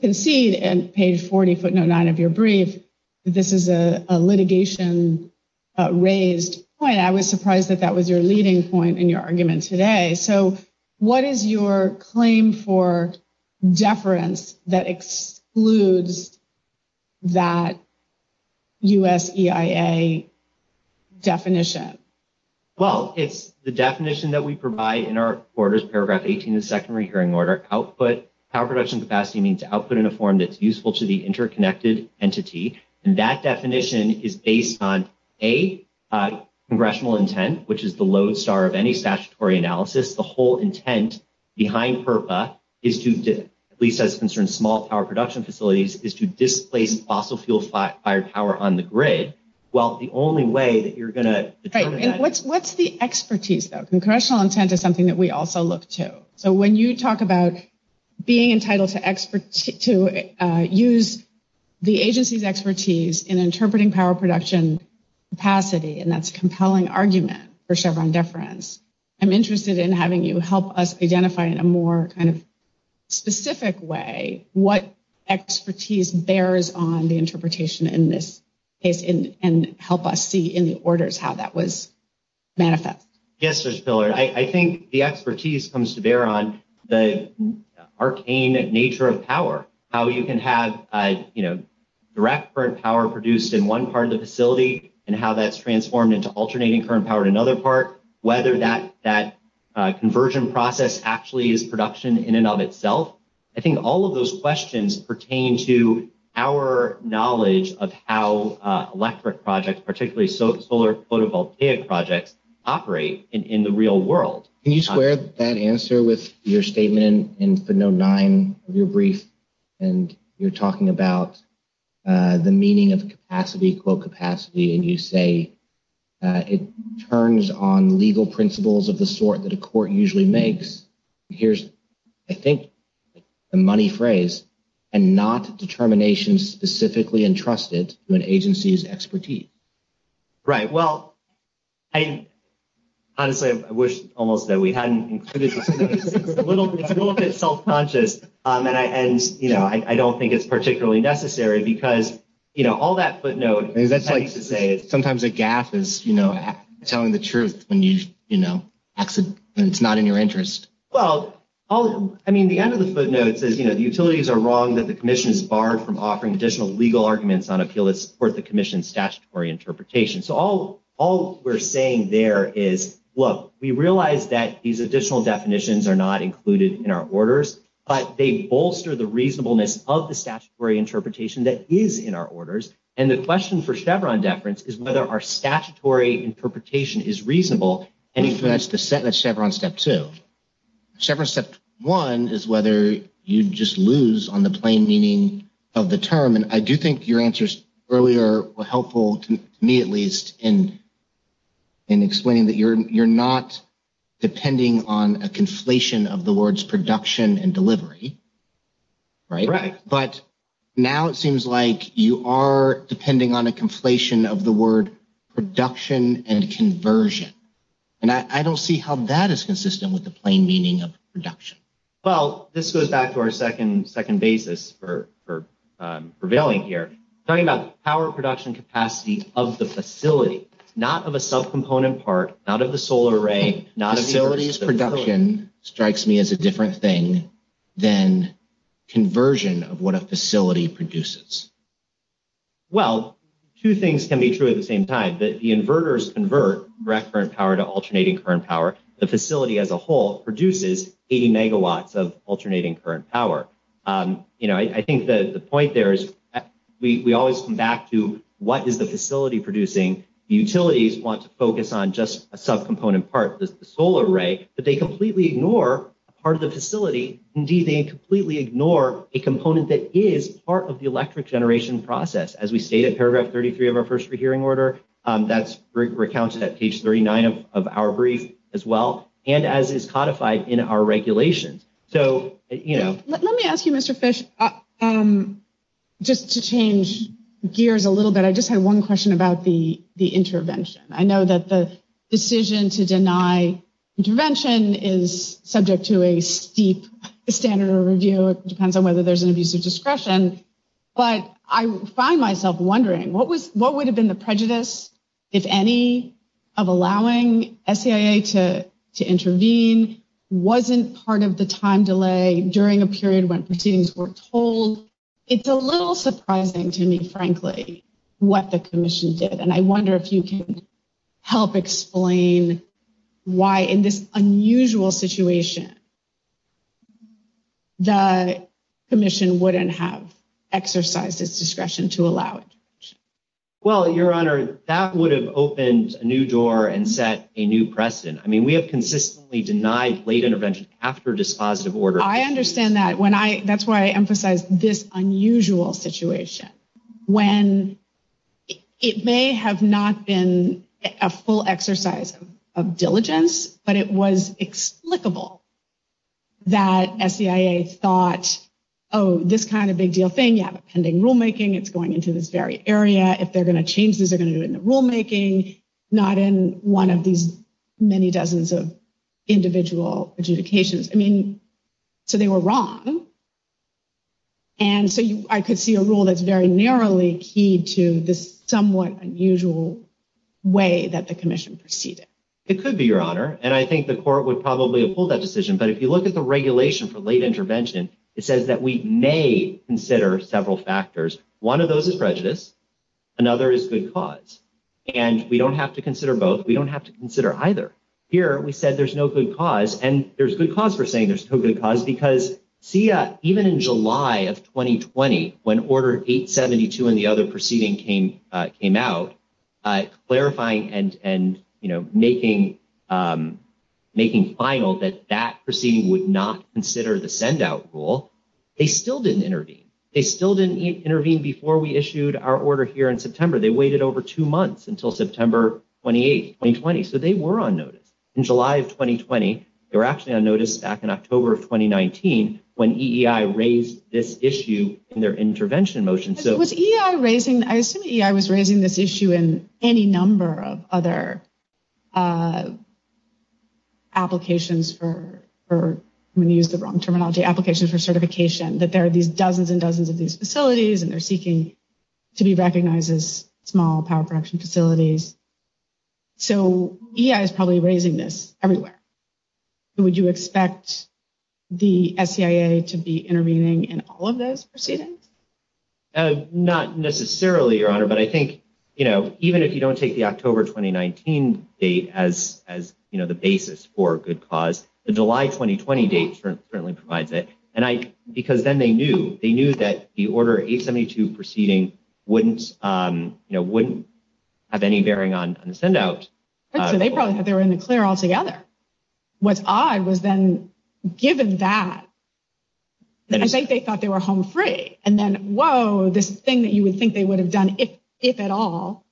concede in page 40, footnote nine of your brief, this is a litigation raised point. I was surprised that that was your leading point in your argument today. So what is your claim for deference that excludes that US EIA definition? Well, it's the definition that we provide in our quarters, paragraph 18 of the Second Rehearing Order. Output, power production capacity means output in a form that's useful to the interconnected entity. And that definition is based on, A, congressional intent, which is the lodestar of any statutory analysis. The whole intent behind PURPA, at least as it concerns small power production facilities, is to displace fossil fuel fired power on the grid. Well, the only way that you're going to determine that... What's the expertise, though? Congressional intent is something that we also look to. So when you talk about being entitled to use the agency's expertise in interpreting power production capacity, and that's a compelling argument, for Chevron deference, I'm interested in having you help us identify in a more kind of specific way what expertise bears on the interpretation in this case and help us see in the orders how that was manifest. Yes, Judge Pillard, I think the expertise comes to bear on the arcane nature of power, how you can have direct current power produced in one part of the facility and how that's transformed into alternating current power in another part, whether that conversion process actually is production in and of itself. I think all of those questions pertain to our knowledge of how electric projects, particularly solar photovoltaic projects, operate in the real world. Can you square that answer with your statement in No. 9 of your brief? And you're talking about the meaning of capacity, quote, capacity, and you say it turns on legal principles of the sort that a court usually makes. Here's, I think, the money phrase, and not determination specifically entrusted to an agency's expertise. Right. Well, honestly, I wish almost that we hadn't included this. It's a little bit self-conscious, and I don't think it's particularly necessary because all that footnote I need to say is... Sometimes a gaffe is telling the truth when it's not in your interest. Well, I mean, the end of the footnote says, you know, the utilities are wrong that the commission is barred from offering additional legal arguments on appeal that support the commission's statutory interpretation. So all we're saying there is, look, we realize that these additional definitions are not included in our orders, but they bolster the reasonableness of the statutory interpretation that is in our orders. And the question for Chevron deference is whether our statutory interpretation is reasonable. That's Chevron Step 2. Chevron Step 1 is whether you just lose on the plain meaning of the term. And I do think your answers earlier were helpful to me, at least, in explaining that you're not depending on a conflation of the words production and delivery. Right. Right. But now it seems like you are depending on a conflation of the word production and conversion. And I don't see how that is consistent with the plain meaning of production. Well, this goes back to our second basis for prevailing here. Talking about power production capacity of the facility, not of a subcomponent part, not of the solar array, not of... Facilities production strikes me as a different thing than conversion of what a facility produces. Well, two things can be true at the same time. The inverters convert direct current power to alternating current power. The facility as a whole produces 80 megawatts of alternating current power. You know, I think the point there is we always come back to what is the facility producing? Utilities want to focus on just a subcomponent part, the solar array, but they completely ignore part of the facility. Indeed, they completely ignore a component that is part of the electric generation process. As we state in paragraph 33 of our first hearing order, that's recounted at page 39 of our brief as well, and as is codified in our regulations. So, you know... Let me ask you, Mr. Fish, just to change gears a little bit. I just had one question about the intervention. I know that the decision to deny intervention is subject to a steep standard of review. It depends on whether there's an abuse of discretion. But I find myself wondering, what would have been the prejudice, if any, of allowing SCIA to intervene? Wasn't part of the time delay during a period when proceedings were told? It's a little surprising to me, frankly, what the commission did. And I wonder if you can help explain why, in this unusual situation, the commission wouldn't have exercised its discretion to allow intervention. Well, Your Honor, that would have opened a new door and set a new precedent. I mean, we have consistently denied late intervention after dispositive order. I understand that. That's why I emphasize this unusual situation. When it may have not been a full exercise of diligence, but it was explicable that SCIA thought, oh, this kind of big deal thing, you have a pending rulemaking, it's going into this very area. If they're going to change this, they're going to do it in the rulemaking, not in one of these many dozens of individual adjudications. I mean, so they were wrong. And so I could see a rule that's very narrowly key to this somewhat unusual way that the commission proceeded. It could be, Your Honor. And I think the court would probably have pulled that decision. But if you look at the regulation for late intervention, it says that we may consider several factors. One of those is prejudice. Another is good cause. And we don't have to consider both. We don't have to consider either. Here, we said there's no good cause. And there's good cause for saying there's no good cause, because SCIA, even in July of 2020, when Order 872 and the other proceeding came out, clarifying and making final that that proceeding would not consider the send-out rule, they still didn't intervene. They still didn't intervene before we issued our order here in September. They waited over two months until September 28, 2020. So they were on notice. In July of 2020, they were actually on notice back in October of 2019 when EEI raised this issue in their intervention motion. Was EEI raising, I assume EEI was raising this issue in any number of other applications for, I'm going to use the wrong terminology, applications for certification, that there are these dozens and dozens of these facilities, and they're seeking to be recognized as small power production facilities. So EEI is probably raising this everywhere. Would you expect the SCIA to be intervening in all of those proceedings? Not necessarily, Your Honor, but I think, you know, even if you don't take the October 2019 date as, you know, the basis for good cause, the July 2020 date certainly provides it. And I, because then they knew, they knew that the Order 872 proceeding wouldn't, you know, wouldn't have any bearing on the send-out. So they probably thought they were in the clear altogether. What's odd was then, given that, I think they thought they were home free. And then, whoa, this thing that you would think they would have done, if at all,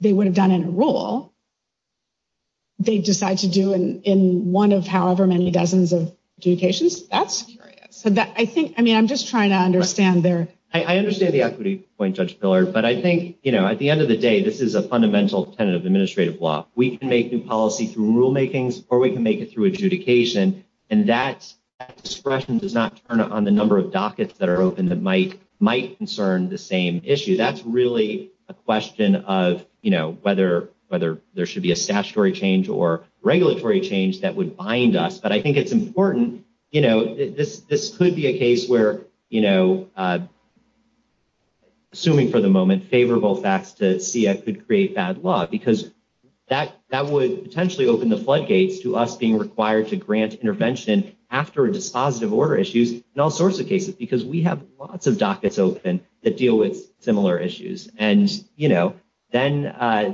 they would have done in a rule, they decide to do in one of however many dozens of adjudications. That's curious. I think, I mean, I'm just trying to understand their... I understand the equity point, Judge Miller, but I think, you know, at the end of the day, this is a fundamental tenet of administrative law. We can make new policy through rulemakings or we can make it through adjudication. And that expression does not turn on the number of dockets that are open that might concern the same issue. That's really a question of, you know, whether there should be a statutory change or regulatory change that would bind us. But I think it's important, you know, this could be a case where, you know, assuming for the moment favorable facts to see that could create bad law, because that would potentially open the floodgates to us being required to grant intervention after a dispositive order issues in all sorts of cases, because we have lots of dockets open that deal with similar issues. And, you know, then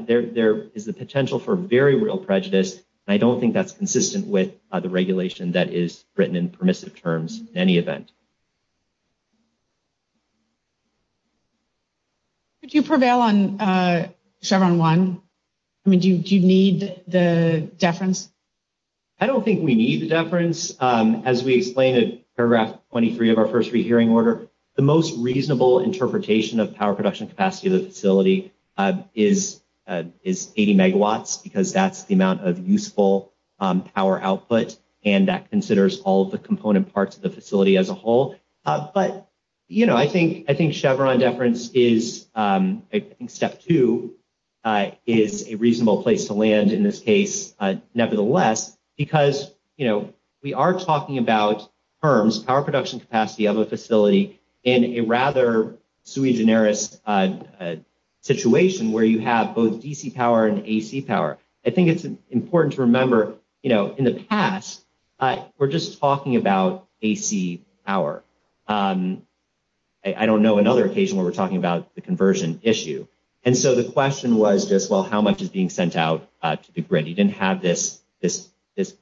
there is the potential for very real prejudice. And I don't think that's consistent with the regulation that is written in permissive terms in any event. Could you prevail on Chevron 1? I mean, do you need the deference? I don't think we need the deference. As we explained in paragraph 23 of our first re-hearing order, the most reasonable interpretation of power production capacity of the facility is 80 megawatts, because that's the amount of useful power output. And that considers all of the component parts of the facility as a whole. But, you know, I think Chevron deference is, I think step two, is a reasonable place to land in this case, nevertheless, because, you know, we are talking about terms, power production capacity of a facility in a rather sui generis situation where you have both DC power and AC power. I think it's important to remember, you know, in the past, we're just talking about AC power. I don't know another occasion where we're talking about the conversion issue. And so the question was just, well, how much is being sent out to the grid? You didn't have this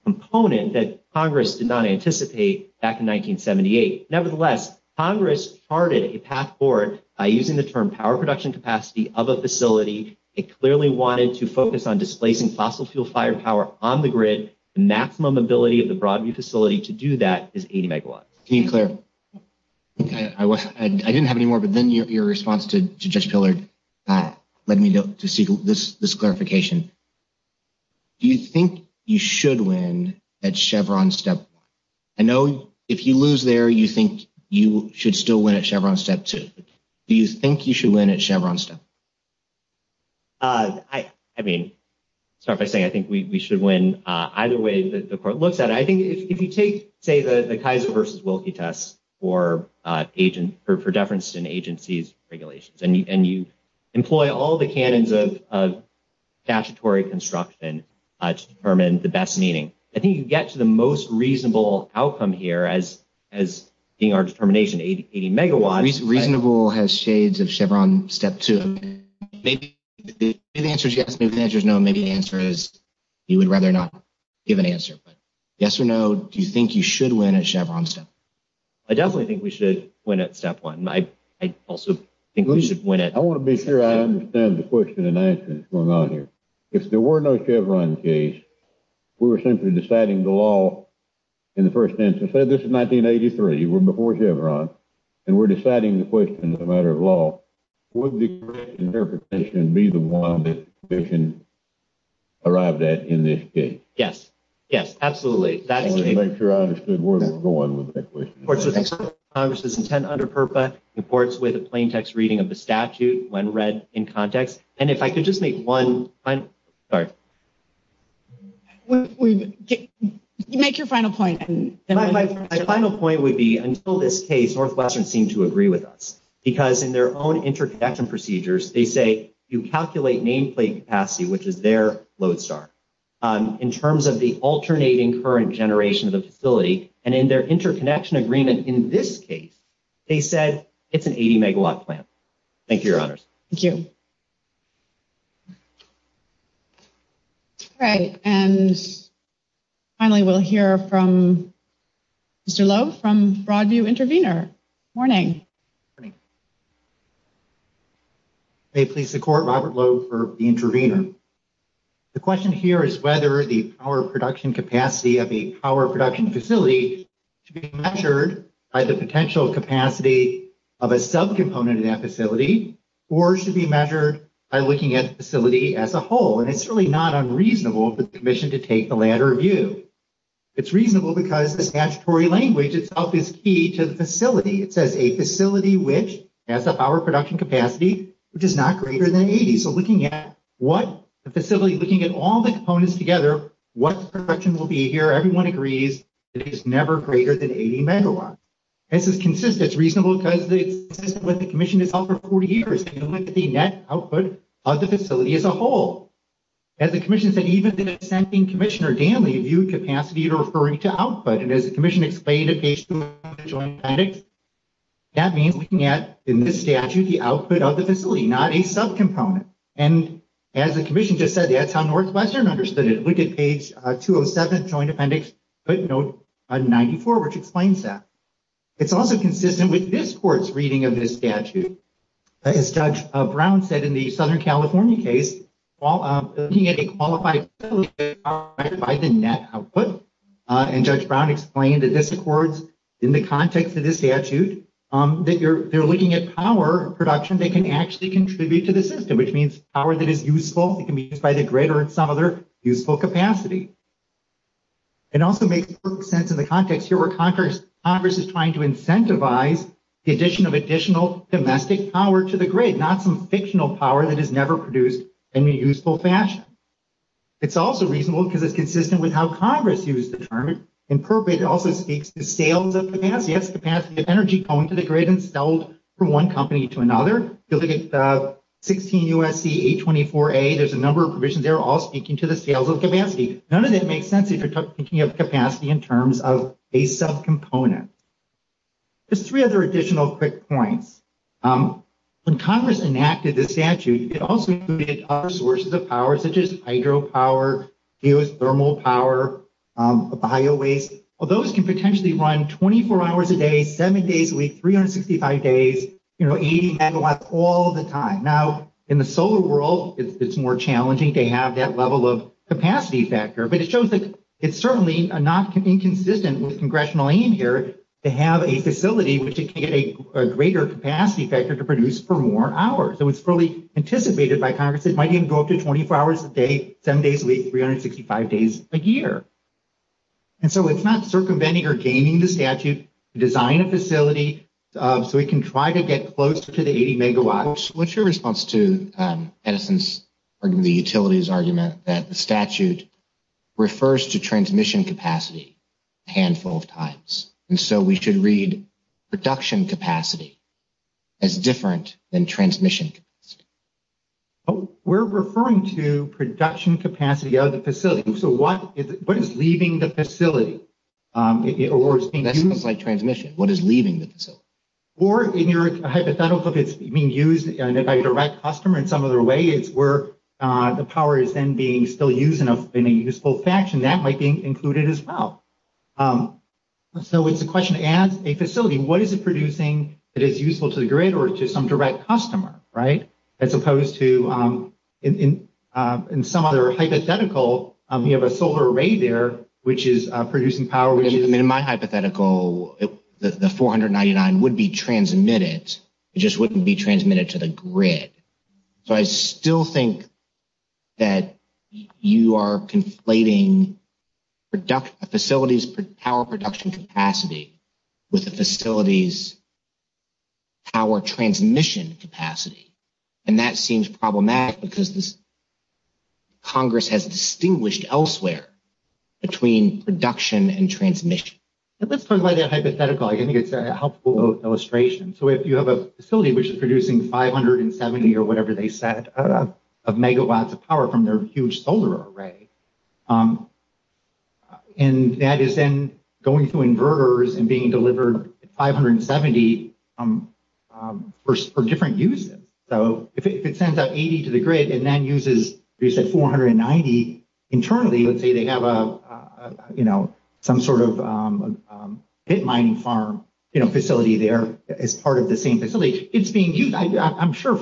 component that Congress did not anticipate back in 1978. Nevertheless, Congress charted a path forward by using the term power production capacity of a facility. It clearly wanted to focus on displacing fossil fuel firepower on the grid. The maximum ability of the Broadview facility to do that is 80 megawatts. I didn't have any more, but then your response to Judge Pillard led me to seek this clarification. Do you think you should win at Chevron step one? I know if you lose there, you think you should still win at Chevron step two. Do you think you should win at Chevron step? I mean, start by saying, I think we should win either way the court looks at it. I think if you take, say, the Kaiser versus Wilkie test for deference in agencies regulations, and you employ all the canons of statutory construction to determine the best meaning, I think you get to the most reasonable outcome here as being our determination, 80 megawatts. Reasonable has shades of Chevron step two. Maybe the answer is yes. Maybe the answer is no. Maybe the answer is you would rather not give an answer. But yes or no, do you think you should win at Chevron step? I definitely think we should win at step one. I also think we should win at- I want to be sure I understand the question and answer that's going on here. If there were no Chevron case, we were simply deciding the law in the first instance. Say this is 1983. We're before Chevron, and we're deciding the question as a matter of law. Would the correct interpretation be the one that the conviction arrived at in this case? Yes. Yes, absolutely. I want to make sure I understood where we're going with that question. Congress's intent under PURPA reports with a plain text reading of the statute when read in context. And if I could just make one final- Sorry. Make your final point. My final point would be until this case, Northwestern seemed to agree with us because in their own interconnection procedures, they say you calculate nameplate capacity, which is their load star. In terms of the alternating current generation of the facility, and in their interconnection agreement in this case, they said it's an 80-megawatt plant. Thank you, Your Honors. Thank you. All right. And finally, we'll hear from Mr. Lowe from Broadview Intervenor. Morning. Morning. May it please the Court, Robert Lowe for the Intervenor. The question here is whether the power production capacity of a power production facility should be measured by the potential capacity of a subcomponent in that facility or should be measured by looking at the facility as a whole. And it's really not unreasonable for the Commission to take the latter view. It's reasonable because the statutory language itself is key to the facility. It says a facility which has a power production capacity which is not greater than 80. Now, the facility, looking at all the components together, what the production will be here, everyone agrees, it is never greater than 80 megawatts. This is consistent. It's reasonable because it's consistent with what the Commission has held for 40 years. You look at the net output of the facility as a whole. As the Commission said, even the dissenting Commissioner, Danley, viewed capacity to referring to output. And as the Commission explained and as the Commission just said, that's how Northwestern understood it. Look at page 207, joint appendix, footnote 94, which explains that. It's also consistent with this court's reading of this statute. As Judge Brown said in the Southern California case, while looking at a qualified facility powered by the net output, and Judge Brown explained that this accords in the context of this statute, that they're looking at power production being used by the grid or in some other useful capacity. It also makes perfect sense in the context here where Congress is trying to incentivize the addition of additional domestic power to the grid, not some fictional power that is never produced in a useful fashion. It's also reasonable because it's consistent with how Congress used the term. It also speaks to sales of capacity, energy going to the grid instead of being installed from one company to another. If you look at 16 USC 824A, there's a number of provisions there all speaking to the sales of capacity. None of that makes sense if you're thinking of capacity in terms of a subcomponent. There's three other additional quick points. When Congress enacted this statute, it also included other sources of power such as hydropower, geothermal power, bio-waste. Those can potentially run 24 hours a day, seven days a week, 365 days, 80 megawatts all the time. Now, in the solar world, it's more challenging to have that level of capacity factor, but it shows that it's certainly not inconsistent with congressional aim here to have a facility which can get a greater capacity It was fully anticipated by Congress it might even go up to 24 hours a day, seven days a week, 365 days a year. And so it's not circumventing or gaining the statute to design a facility so we can try to get close to the 80 megawatts. What's your response to Edison's or the utility's argument that the statute refers to transmission capacity a handful of times? And so we should read production capacity as different than transmission capacity of the facility. So what is leaving the facility? That sounds like transmission. What is leaving the facility? Or in your hypothetical, if it's being used by a direct customer in some other way, it's where the power is then being still used in a useful faction. That might be included as well. So it's a question as a facility, what is it producing that is useful to the grid or to some direct customer? As opposed to in some other hypothetical, you have a solar array there, which is producing power. In my hypothetical, the 499 would be transmitted. It just wouldn't be transmitted to the grid. So I still think that you are conflating a facility's power production capacity with the facility's power transmission capacity. And that seems problematic because Congress has distinguished elsewhere between production and transmission. Let's talk about that hypothetical. I think it's a helpful illustration. So if you have a facility which is producing 570 or whatever they said of megawatts of power from their huge solar array, and that is then going through inverters and being delivered 570 for different uses. So if it sends out 80 to the grid and then uses 490 internally, let's say they have some sort of pit mining farm facility there as part of the same facility, it's being used. I'm sure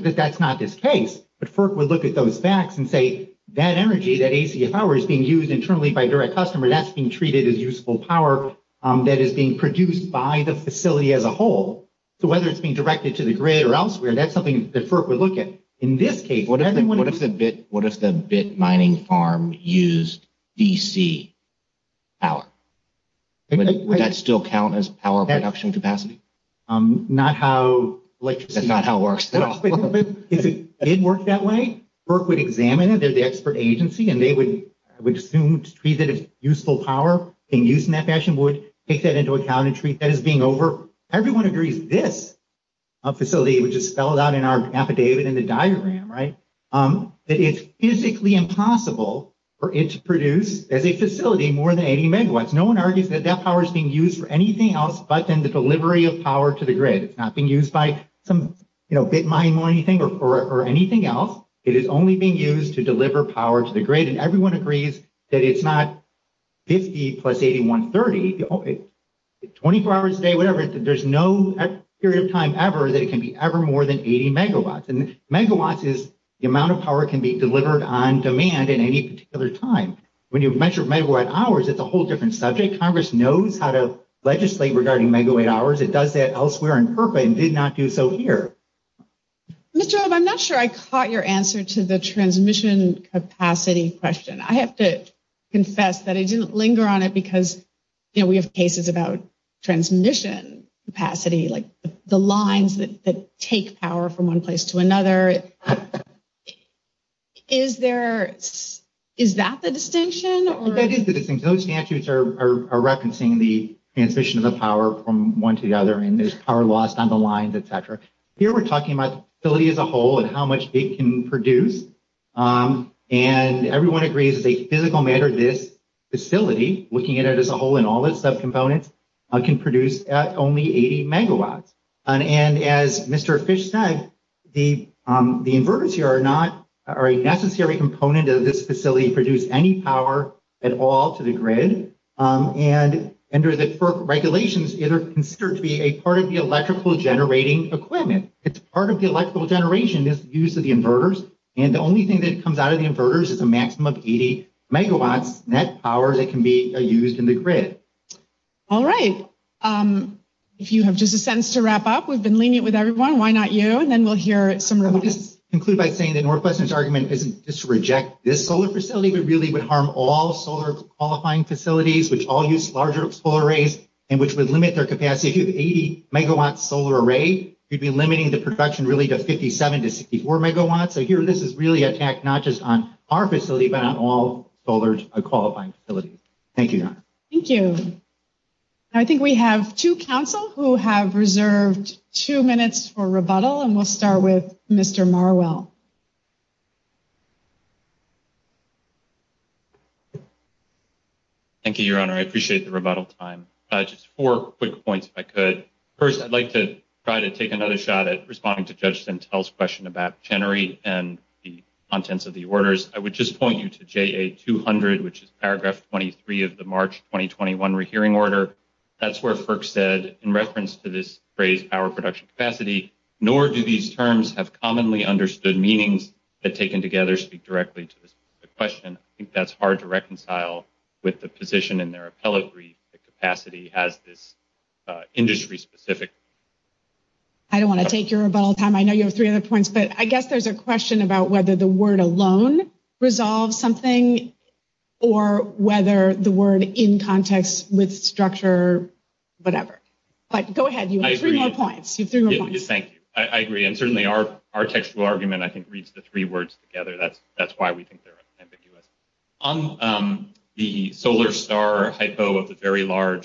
that's not this case, but FERC would look at those facts and say that energy, that AC power is being used internally by a direct customer that's being treated as useful power that is being produced by the facility as a whole. So whether it's being directed to the grid or elsewhere, that's something that FERC would look at. In this case- What if the pit mining farm used DC power? Would that still count as power production capacity? That's not how it works at all. If it did work that way, FERC would examine it, they're the expert agency, and they would assume to treat it as useful power being used in that fashion, would take that into account and treat that as being over- Everyone agrees that if we produce this facility, which is spelled out in our affidavit in the diagram, that it's physically impossible for it to produce as a facility more than 80 megawatts. No one argues that that power is being used for anything else but in the delivery of power to the grid. It's not being used by some pit mine or anything or anything else. It is only being used to deliver power to the grid, and everyone agrees that it's not 50 plus 80, 130, 24 hours a day, whatever. There's no period of time ever that it can be ever more than 80 megawatts, and megawatts is the amount of power that can be delivered on demand at any particular time. When you measure megawatt hours, it's a whole different subject. Congress knows how to legislate regarding megawatt hours. It does that elsewhere in FERPA and did not do so here. Ms. Job, I'm not sure I caught your answer to the transmission capacity question. I have to confess that I didn't linger on it because, you know, we have cases about transmission capacity, like the lines that take power from one place to another. Is that the distinction? That is the distinction. Those statutes are referencing the transmission of the power from one to the other, and there's power lost on the lines, et cetera. Here, we're talking about the facility as a whole and how much it can produce, and everyone agrees it's a physical matter, this facility, looking at it as a whole and all its subcomponents, can produce only 80 megawatts, and as Mr. Fish said, the inverters here are not a necessary component of this facility to produce any power at all to the grid, and under the FERPA regulations, they're considered to be a part of the electrical generating equipment. It's part of the electrical generation that's used to the inverters, and the only thing that comes out of the inverters is a maximum of 80 megawatts net power that can be used in the grid. All right, if you have just a sentence to wrap up, we've been lenient with everyone, why not you? And then we'll hear some remarks. I'll just conclude by saying that Northwestern's argument isn't just to reject this solar facility, but really would harm all solar qualifying facilities, which all use larger solar arrays, and which would limit their capacity. If you have an 80 megawatt solar array, you'd be limiting the production really to 57 to 64 megawatts, so here, this is really an attack not just on our facility, but on all facilities. Thank you, Your Honor. Thank you. I think we have two counsel who have reserved two minutes for rebuttal, and we'll start with Mr. Marwell. Thank you, Your Honor. I appreciate the rebuttal time. Just four quick points, if I could. First, I'd like to try to take another shot at responding to Judge Sintel's question about the contents of the orders. I would just point you to JA200, which is paragraph 23 of the March 2021 rehearing order. That's where FERC said, in reference to this phrase, power production capacity, nor do these terms have commonly understood meanings that taken together speak directly to this question. I think that's hard to reconcile with the position in their appellate brief that capacity has this industry-specific I don't want to take your rebuttal time. I know you have three other points, but I guess there's a question about whether the word alone resolves something, or whether the word in context with structure, whatever. But go ahead. You have three more points. Thank you. I agree, and certainly our textual argument reads the three words together. That's why we think they're a very large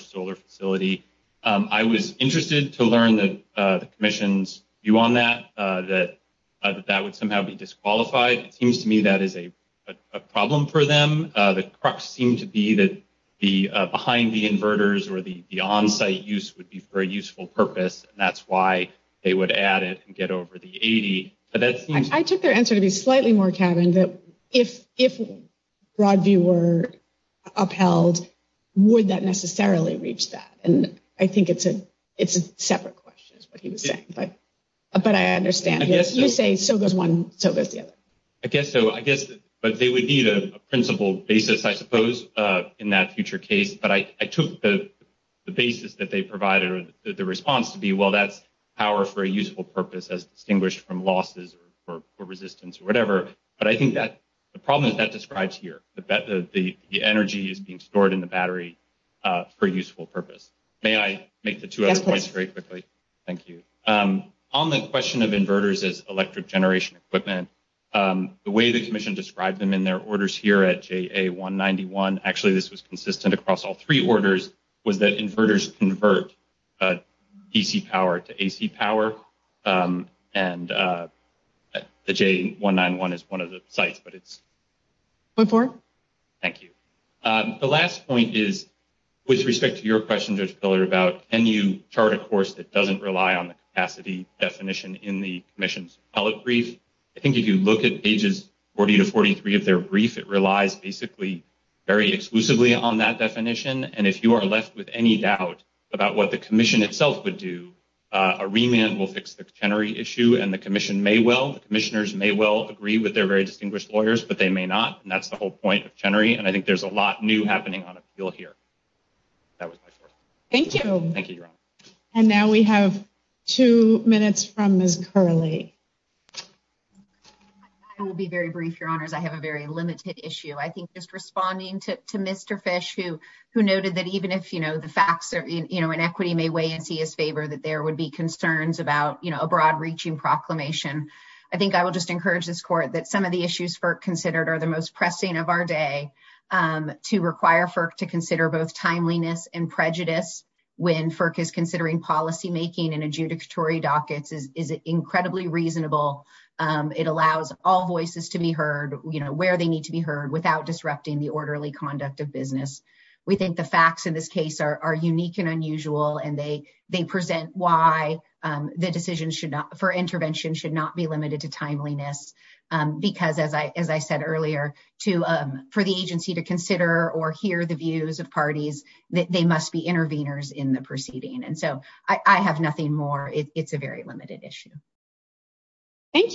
solar facility. I was interested to learn the commission's view on that, that that would somehow be disqualified. It seems to me that is a problem for them. The crux seemed to be that behind the inverters or the on-site use would be for a useful purpose, and that's why they would add it and get over the problem. don't think that would be upheld would that necessarily reach that. I think it's a separate question, but I understand. So goes one, so goes the other. I guess they would need a principle basis, I suppose, in that future case, but I took the basis that they provided or the response to be, well, that's power for a useful purpose as distinguished from losses or resistance or whatever, but I think that the problem is that describes here. The energy is being stored in the battery for a useful purpose. May I make the two other points very quickly? Thank you. On the last point, with respect to your question, can you chart a course that doesn't rely on the capacity definition in the commission's brief? I think if you look at pages 40-43 of their brief, it relies basically very exclusively on that definition, and if you are left with any doubt about what the commission itself would do, a remand will fix the issue, and the commission may well agree with their distinguished lawyers, but they may not, and that's the whole point. Thank you. Now we have two minutes from Ms. Curley. I have a very limited issue. Responding to Ms. I think that the commission agree that there would be concerns about a broad-reaching proclamation. I think I will encourage this court that some of the issues are the most pressing of our day. It is incredibly reasonable. It allows all voices to be heard where they need to be heard without disrupting the orderly conduct of business. The facts are unique and unusual and present why the decision for intervention should not be limited to timeliness. As I said earlier, for the agency to consider or consider this issue, we must be interveners in the proceeding. I have nothing more. It is a very limited issue. Thank you.